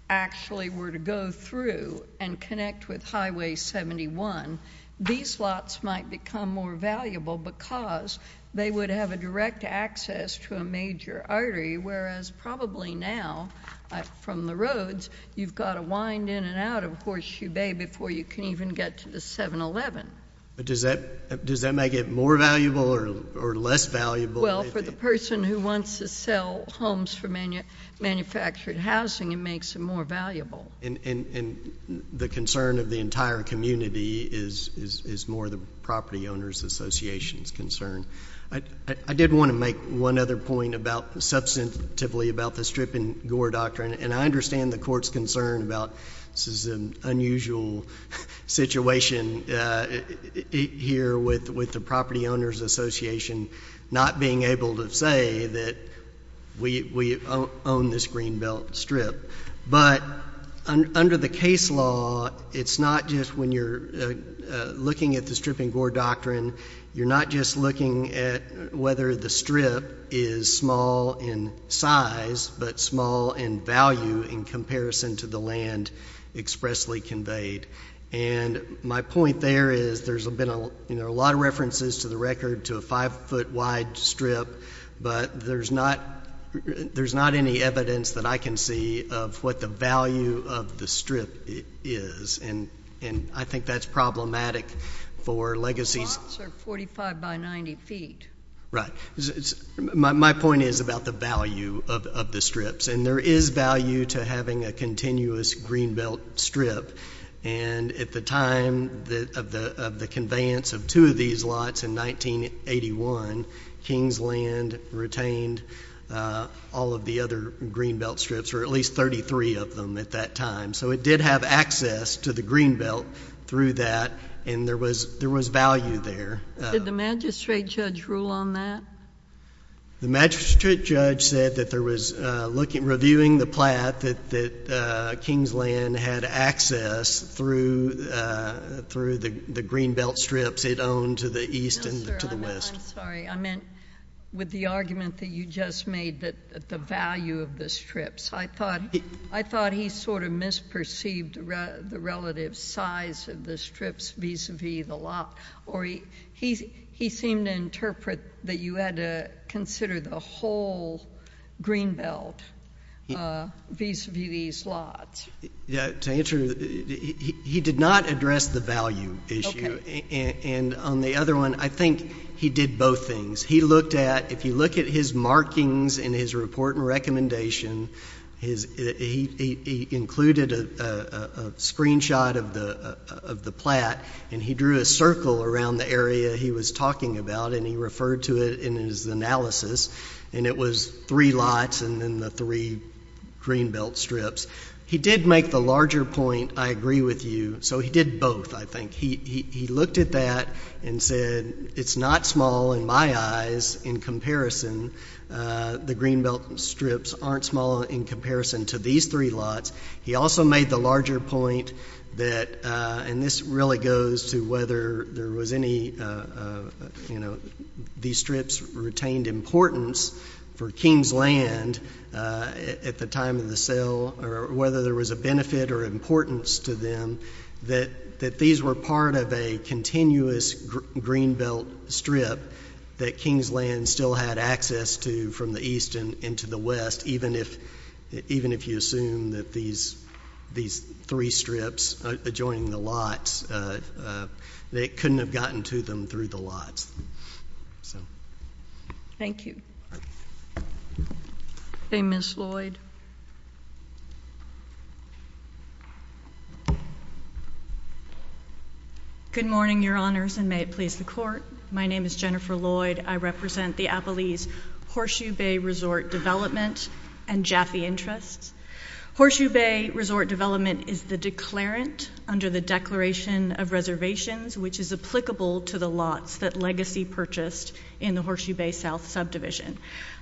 actually were to go through and connect with Highway 71, these lots might become more valuable because they would have a direct access to a major artery, whereas probably now, from the roads, you've got to wind in and out of Horseshoe Bay before you can even get to the 711. But does that make it more valuable or less valuable? Well, for the person who wants to sell homes for manufactured housing, it makes it more valuable. And the concern of the entire community is more the property owners' association's concern. I did want to make one other point substantively about the strip and gore doctrine, and I understand the court's concern about this is an unusual situation here with the property owners' association not being able to say that we own this Greenbelt strip. But under the case law, it's not just when you're looking at the strip and gore doctrine, you're not just looking at whether the strip is small in size but small in value in comparison to the land expressly conveyed. And my point there is there's been a lot of references to the record to a five-foot-wide strip, but there's not any evidence that I can see of what the value of the strip is, and I think that's problematic for legacies. The lots are 45 by 90 feet. Right. My point is about the value of the strips, and there is value to having a continuous Greenbelt strip. And at the time of the conveyance of two of these lots in 1981, Kingsland retained all of the other Greenbelt strips, or at least 33 of them at that time. So it did have access to the Greenbelt through that, and there was value there. Did the magistrate judge rule on that? The magistrate judge said that there was, reviewing the plat, that Kingsland had access through the Greenbelt strips it owned to the east and to the west. No, sir, I'm sorry. I meant with the argument that you just made that the value of the strips. I thought he sort of misperceived the relative size of the strips vis-à-vis the lot, or he seemed to interpret that you had to consider the whole Greenbelt vis-à-vis these lots. To answer, he did not address the value issue. Okay. And on the other one, I think he did both things. He looked at, if you look at his markings in his report and recommendation, he included a screenshot of the plat, and he drew a circle around the area he was talking about and he referred to it in his analysis, and it was three lots and then the three Greenbelt strips. He did make the larger point, I agree with you, so he did both, I think. He looked at that and said, it's not small in my eyes in comparison. The Greenbelt strips aren't small in comparison to these three lots. He also made the larger point that, and this really goes to whether there was any, you know, these strips retained importance for Kingsland at the time of the sale or whether there was a benefit or importance to them, that these were part of a continuous Greenbelt strip that Kingsland still had access to from the east and to the west, even if you assume that these three strips adjoining the lots, it couldn't have gotten to them through the lots. Thank you. MS. LLOYD. Good morning, Your Honors, and may it please the Court. My name is Jennifer Lloyd. I represent the Appalachian Horseshoe Bay Resort Development and Jaffe Interests. Horseshoe Bay Resort Development is the declarant under the Declaration of Reservations, which is applicable to the lots that Legacy purchased in the Horseshoe Bay South subdivision.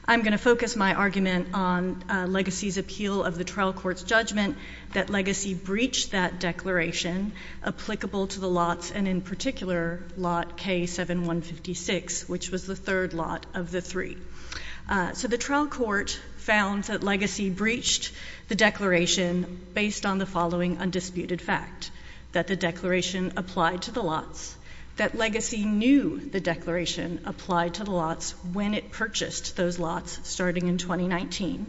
I'm going to focus my argument on Legacy's appeal of the trial court's judgment that Legacy breached that declaration applicable to the lots and, in particular, lot K7156, which was the third lot of the three. So the trial court found that Legacy breached the declaration based on the following undisputed fact, that the declaration applied to the lots, that Legacy knew the declaration applied to the lots when it purchased those lots starting in 2019,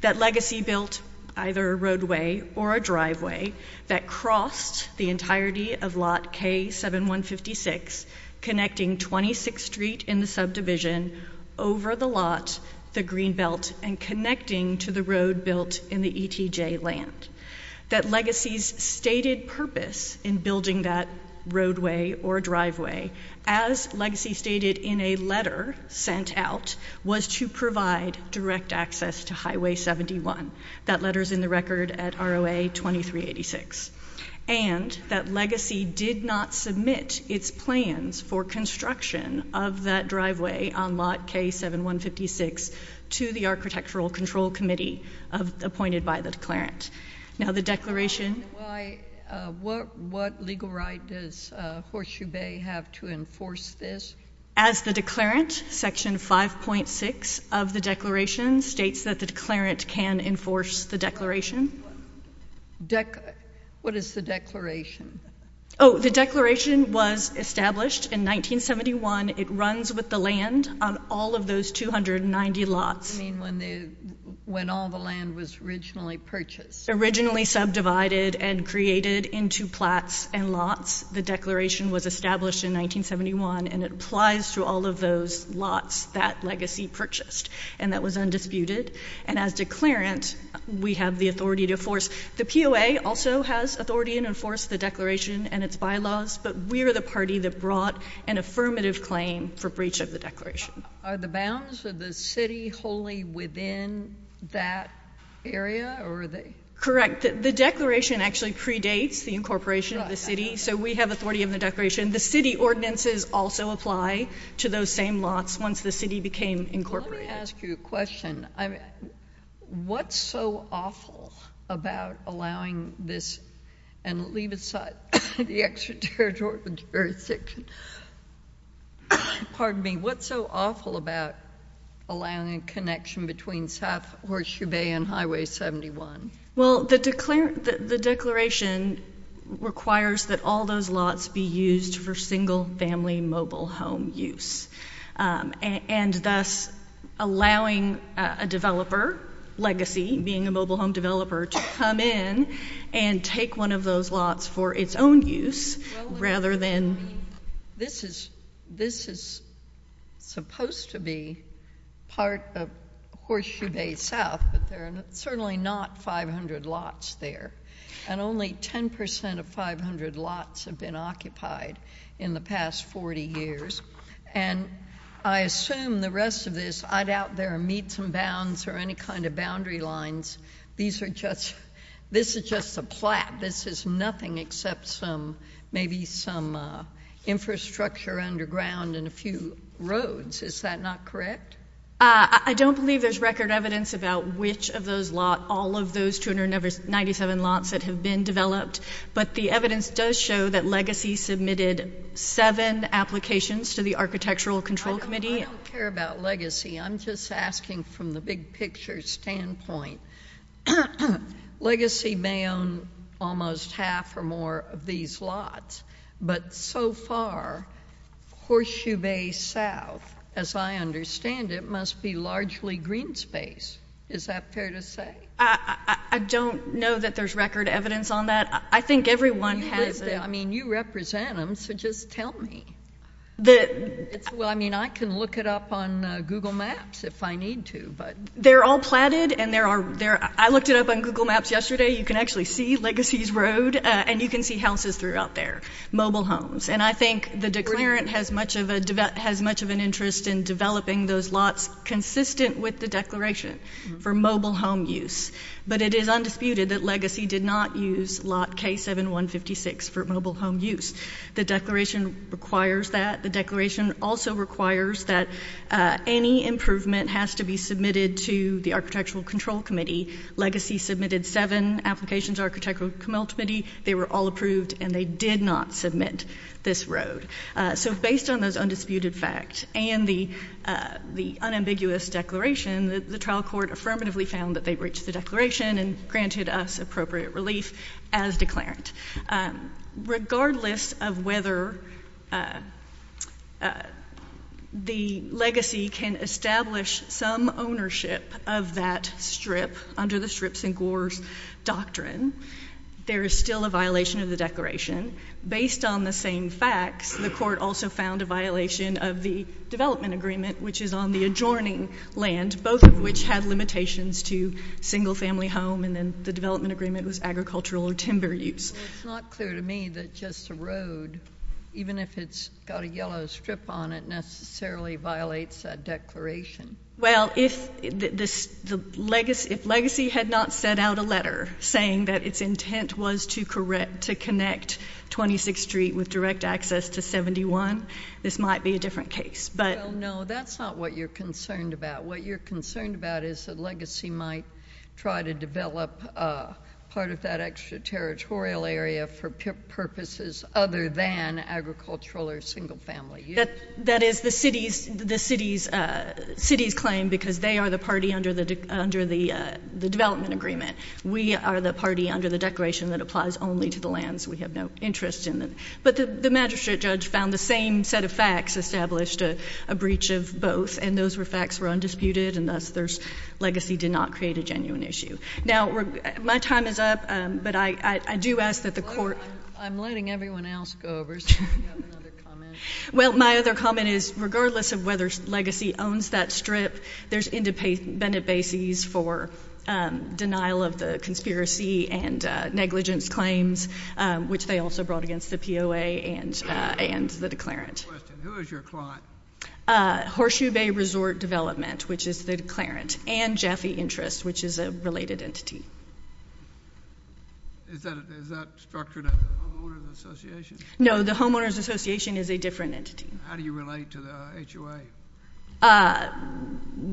that Legacy built either a roadway or a driveway that crossed the entirety of lot K7156, connecting 26th Street in the subdivision over the lot, the green belt, and connecting to the road built in the ETJ land, that Legacy's stated purpose in building that roadway or driveway, as Legacy stated in a letter sent out, was to provide direct access to Highway 71. That letter's in the record at ROA 2386. And that Legacy did not submit its plans for construction of that driveway on lot K7156 to the Architectural Control Committee appointed by the declarant. Now the declaration... What legal right does Horseshoe Bay have to enforce this? As the declarant, Section 5.6 of the declaration states that the declarant can enforce the declaration. What is the declaration? Oh, the declaration was established in 1971. It runs with the land on all of those 290 lots. You mean when all the land was originally purchased? Originally subdivided and created into plots and lots, the declaration was established in 1971, and it applies to all of those lots that Legacy purchased, and that was undisputed. And as declarant, we have the authority to enforce. The POA also has authority to enforce the declaration and its bylaws, but we are the party that brought an affirmative claim for breach of the declaration. Are the bounds of the city wholly within that area? Correct. The declaration actually predates the incorporation of the city, so we have authority of the declaration. The city ordinances also apply to those same lots once the city became incorporated. Let me ask you a question. What's so awful about allowing this, and leave aside the extraterritorial jurisdiction, pardon me, what's so awful about allowing a connection between South Horseshoe Bay and Highway 71? Well, the declaration requires that all those lots be used for single-family mobile home use, and thus allowing a developer, Legacy being a mobile home developer, to come in and take one of those lots for its own use rather than— This is supposed to be part of Horseshoe Bay South, but there are certainly not 500 lots there, and only 10% of 500 lots have been occupied in the past 40 years. And I assume the rest of this, I doubt there are meets and bounds or any kind of boundary lines. These are just—this is just a plat. This is nothing except maybe some infrastructure underground and a few roads. Is that not correct? I don't believe there's record evidence about which of those lots, all of those 297 lots that have been developed, but the evidence does show that Legacy submitted seven applications to the Architectural Control Committee. I don't care about Legacy. I'm just asking from the big-picture standpoint. Legacy may own almost half or more of these lots, but so far, Horseshoe Bay South, as I understand it, must be largely green space. Is that fair to say? I don't know that there's record evidence on that. I think everyone has— I mean, you represent them, so just tell me. Well, I mean, I can look it up on Google Maps if I need to, but— They're all platted, and there are—I looked it up on Google Maps yesterday. You can actually see Legacy's road, and you can see houses throughout there, mobile homes. And I think the declarant has much of an interest in developing those lots consistent with the declaration for mobile home use, but it is undisputed that Legacy did not use lot K7156 for mobile home use. The declaration requires that. The declaration also requires that any improvement has to be submitted to the Architectural Control Committee. Legacy submitted seven applications to the Architectural Control Committee. They were all approved, and they did not submit this road. So based on those undisputed facts and the unambiguous declaration, the trial court affirmatively found that they reached the declaration and granted us appropriate relief as declarant. Regardless of whether the Legacy can establish some ownership of that strip under the strips and gores doctrine, there is still a violation of the declaration. Based on the same facts, the court also found a violation of the development agreement, which is on the adjoining land, both of which had limitations to single-family home, and then the development agreement was agricultural or timber use. Well, it's not clear to me that just the road, even if it's got a yellow strip on it, necessarily violates that declaration. Well, if Legacy had not sent out a letter saying that its intent was to connect 26th Street with direct access to 71, this might be a different case. No, that's not what you're concerned about. What you're concerned about is that Legacy might try to develop part of that extraterritorial area for purposes other than agricultural or single-family use. That is the city's claim because they are the party under the development agreement. We are the party under the declaration that applies only to the lands we have no interest in. But the magistrate judge found the same set of facts established a breach of both, and those facts were undisputed, and thus Legacy did not create a genuine issue. Now, my time is up, but I do ask that the court ‑‑ I'm letting everyone else go over so we can have another comment. Well, my other comment is, regardless of whether Legacy owns that strip, there's independent bases for denial of the conspiracy and negligence claims, which they also brought against the POA and the declarant. Who is your client? Horseshoe Bay Resort Development, which is the declarant, and Jaffe Interest, which is a related entity. Is that structured under the Homeowners Association? No, the Homeowners Association is a different entity. How do you relate to the HOA?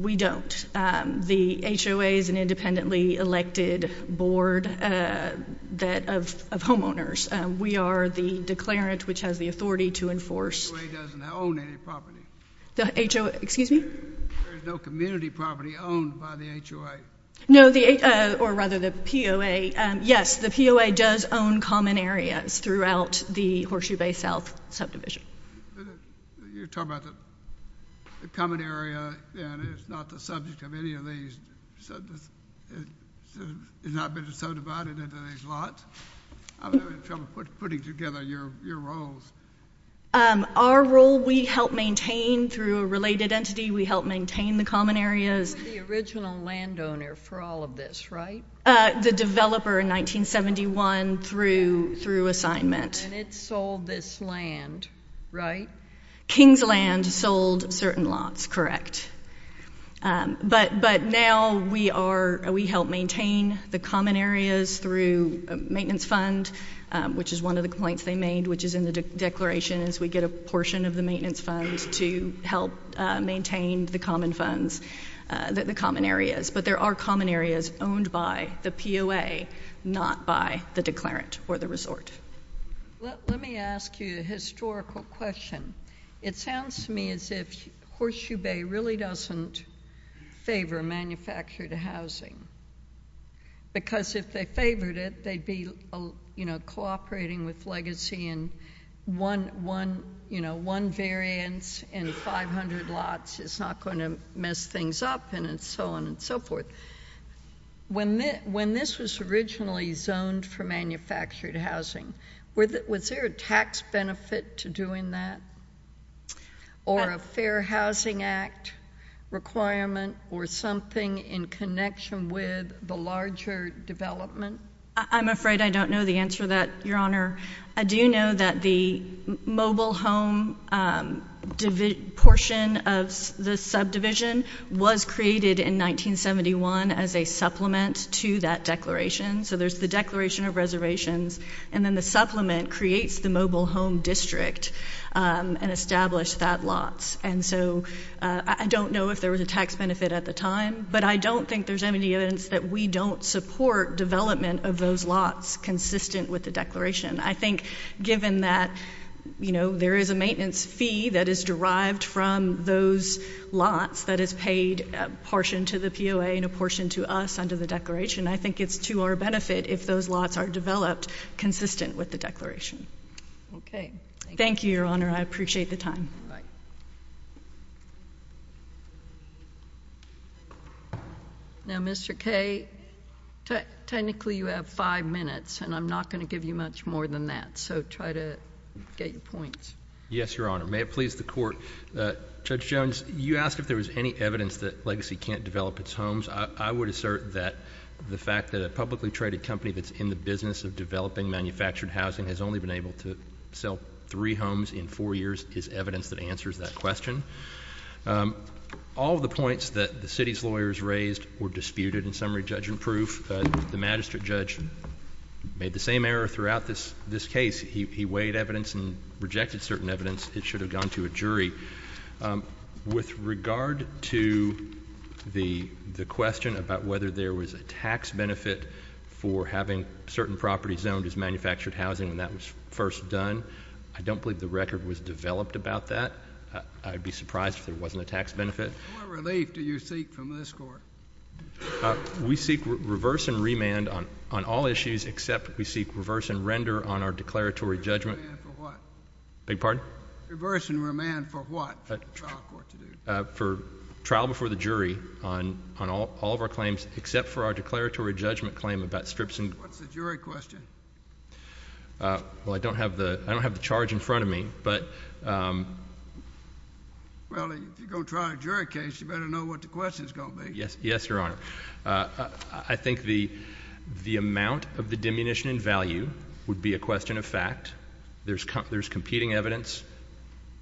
We don't. The HOA is an independently elected board of homeowners. We are the declarant, which has the authority to enforce ‑‑ The HOA doesn't own any property. The HOA, excuse me? There is no community property owned by the HOA. No, or rather the POA. Yes, the POA does own common areas throughout the Horseshoe Bay South subdivision. You're talking about the common area, and it's not the subject of any of these. It's not been so divided into these lots. I'm having trouble putting together your roles. Our role, we help maintain through a related entity. We help maintain the common areas. You're the original landowner for all of this, right? The developer in 1971 through assignment. And it sold this land, right? King's Land sold certain lots, correct. But now we help maintain the common areas through a maintenance fund, which is one of the complaints they made, which is in the declaration is we get a portion of the maintenance fund to help maintain the common areas. But there are common areas owned by the POA, not by the declarant or the resort. Let me ask you a historical question. It sounds to me as if Horseshoe Bay really doesn't favor manufactured housing, because if they favored it, they'd be cooperating with legacy and one variance in 500 lots is not going to mess things up and so on and so forth. When this was originally zoned for manufactured housing, was there a tax benefit to doing that or a Fair Housing Act requirement or something in connection with the larger development? I'm afraid I don't know the answer to that, Your Honor. I do know that the mobile home portion of the subdivision was created in 1971 as a supplement to that declaration. So there's the Declaration of Reservations, and then the supplement creates the mobile home district and established that lots. And so I don't know if there was a tax benefit at the time, but I don't think there's any evidence that we don't support development of those lots consistent with the declaration. I think given that there is a maintenance fee that is derived from those lots that is paid a portion to the POA and a portion to us under the declaration, I think it's to our benefit if those lots are developed consistent with the declaration. Okay. Thank you, Your Honor. I appreciate the time. Now, Mr. Kaye, technically you have five minutes, and I'm not going to give you much more than that, so try to get your points. Yes, Your Honor. May it please the Court, Judge Jones, you asked if there was any evidence that Legacy can't develop its homes. I would assert that the fact that a publicly traded company that's in the business of developing manufactured housing has only been able to sell three homes in four years is evidence that answers that question. All of the points that the city's lawyers raised were disputed in summary judgment proof. The magistrate judge made the same error throughout this case. He weighed evidence and rejected certain evidence. It should have gone to a jury. With regard to the question about whether there was a tax benefit for having certain properties owned as manufactured housing when that was first done, I don't believe the record was developed about that. I'd be surprised if there wasn't a tax benefit. What relief do you seek from this Court? We seek reverse and remand on all issues, except we seek reverse and render on our declaratory judgment. Reverse and remand for what? Beg your pardon? Reverse and remand for what? For trial before the jury on all of our claims, except for our declaratory judgment claim about strips and... What's the jury question? Well, I don't have the charge in front of me, but... Well, if you're going to try a jury case, you better know what the question is going to be. Yes, Your Honor. I think the amount of the diminution in value would be a question of fact. There's competing evidence,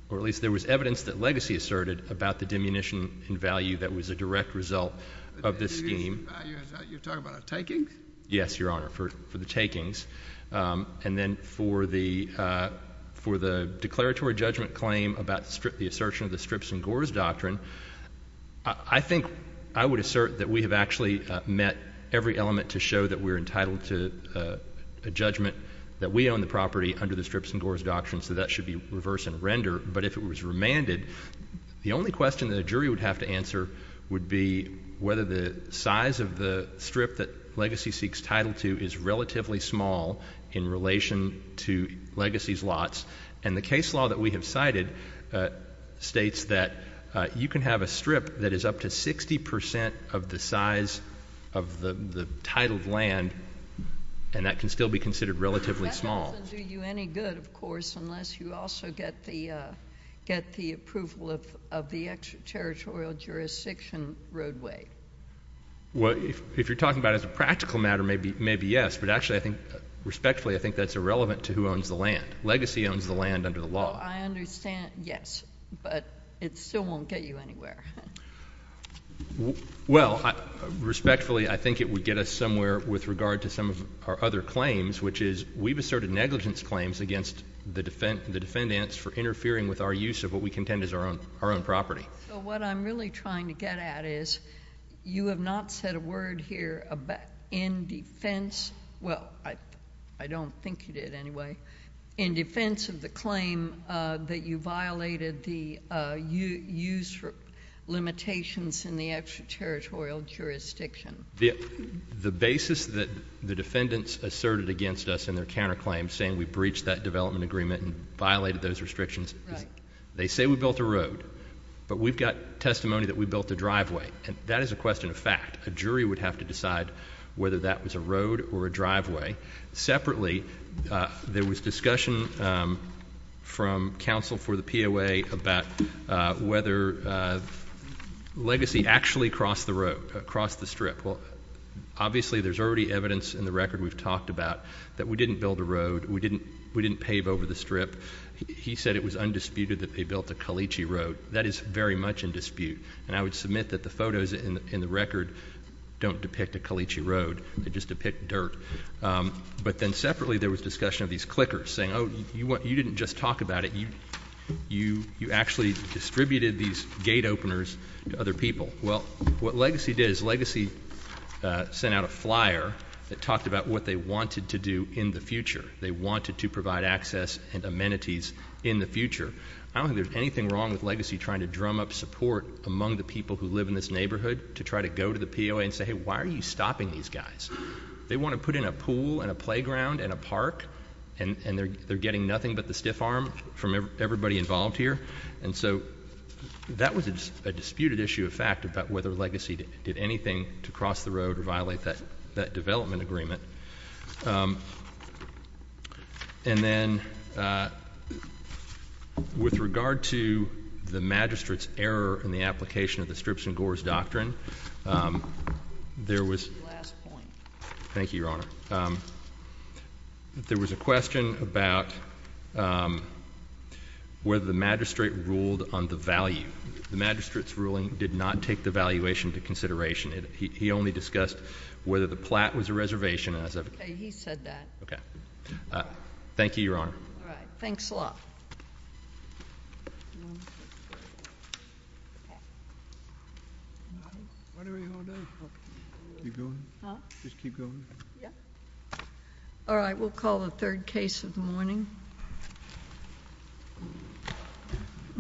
or at least there was evidence that Legacy asserted, about the diminution in value that was a direct result of this scheme. The diminution in value, you're talking about a taking? Yes, Your Honor, for the takings. And then for the declaratory judgment claim about the assertion of the strips and gores doctrine, I think I would assert that we have actually met every element to show that we're entitled to a judgment, that we own the property under the strips and gores doctrine, so that should be reverse and render. But if it was remanded, the only question that a jury would have to answer would be whether the size of the strip that Legacy seeks title to is relatively small in relation to Legacy's lots. And the case law that we have cited states that you can have a strip that is up to 60% of the size of the titled land, and that can still be considered relatively small. It doesn't do you any good, of course, unless you also get the approval of the extraterritorial jurisdiction roadway. Well, if you're talking about it as a practical matter, maybe yes, but actually I think respectfully I think that's irrelevant to who owns the land. Legacy owns the land under the law. I understand, yes, but it still won't get you anywhere. Well, respectfully, I think it would get us somewhere with regard to some of our other claims, which is we've asserted negligence claims against the defendants for interfering with our use of what we contend is our own property. So what I'm really trying to get at is you have not said a word here in defense of the claim that you violated the use for limitations in the extraterritorial jurisdiction. The basis that the defendants asserted against us in their counterclaims, saying we breached that development agreement and violated those restrictions, they say we built a road, but we've got testimony that we built a driveway. And that is a question of fact. A jury would have to decide whether that was a road or a driveway. Separately, there was discussion from counsel for the POA about whether Legacy actually crossed the road, crossed the strip. Well, obviously there's already evidence in the record we've talked about that we didn't build a road. We didn't pave over the strip. He said it was undisputed that they built a caliche road. That is very much in dispute, and I would submit that the photos in the record don't depict a caliche road. They just depict dirt. But then separately, there was discussion of these clickers saying, oh, you didn't just talk about it. You actually distributed these gate openers to other people. Well, what Legacy did is Legacy sent out a flyer that talked about what they wanted to do in the future. They wanted to provide access and amenities in the future. I don't think there's anything wrong with Legacy trying to drum up support among the people who live in this neighborhood to try to go to the POA and say, hey, why are you stopping these guys? They want to put in a pool and a playground and a park, and they're getting nothing but the stiff arm from everybody involved here. And so that was a disputed issue of fact about whether Legacy did anything to cross the road or violate that development agreement. And then with regard to the magistrate's error in the application of the strips and gores doctrine, there was a question about whether the magistrate ruled on the value. The magistrate's ruling did not take the valuation into consideration. He only discussed whether the plat was a reservation. Okay, he said that. Okay. Thank you, Your Honor. All right. Thanks a lot. All right. We'll call the third case of the morning.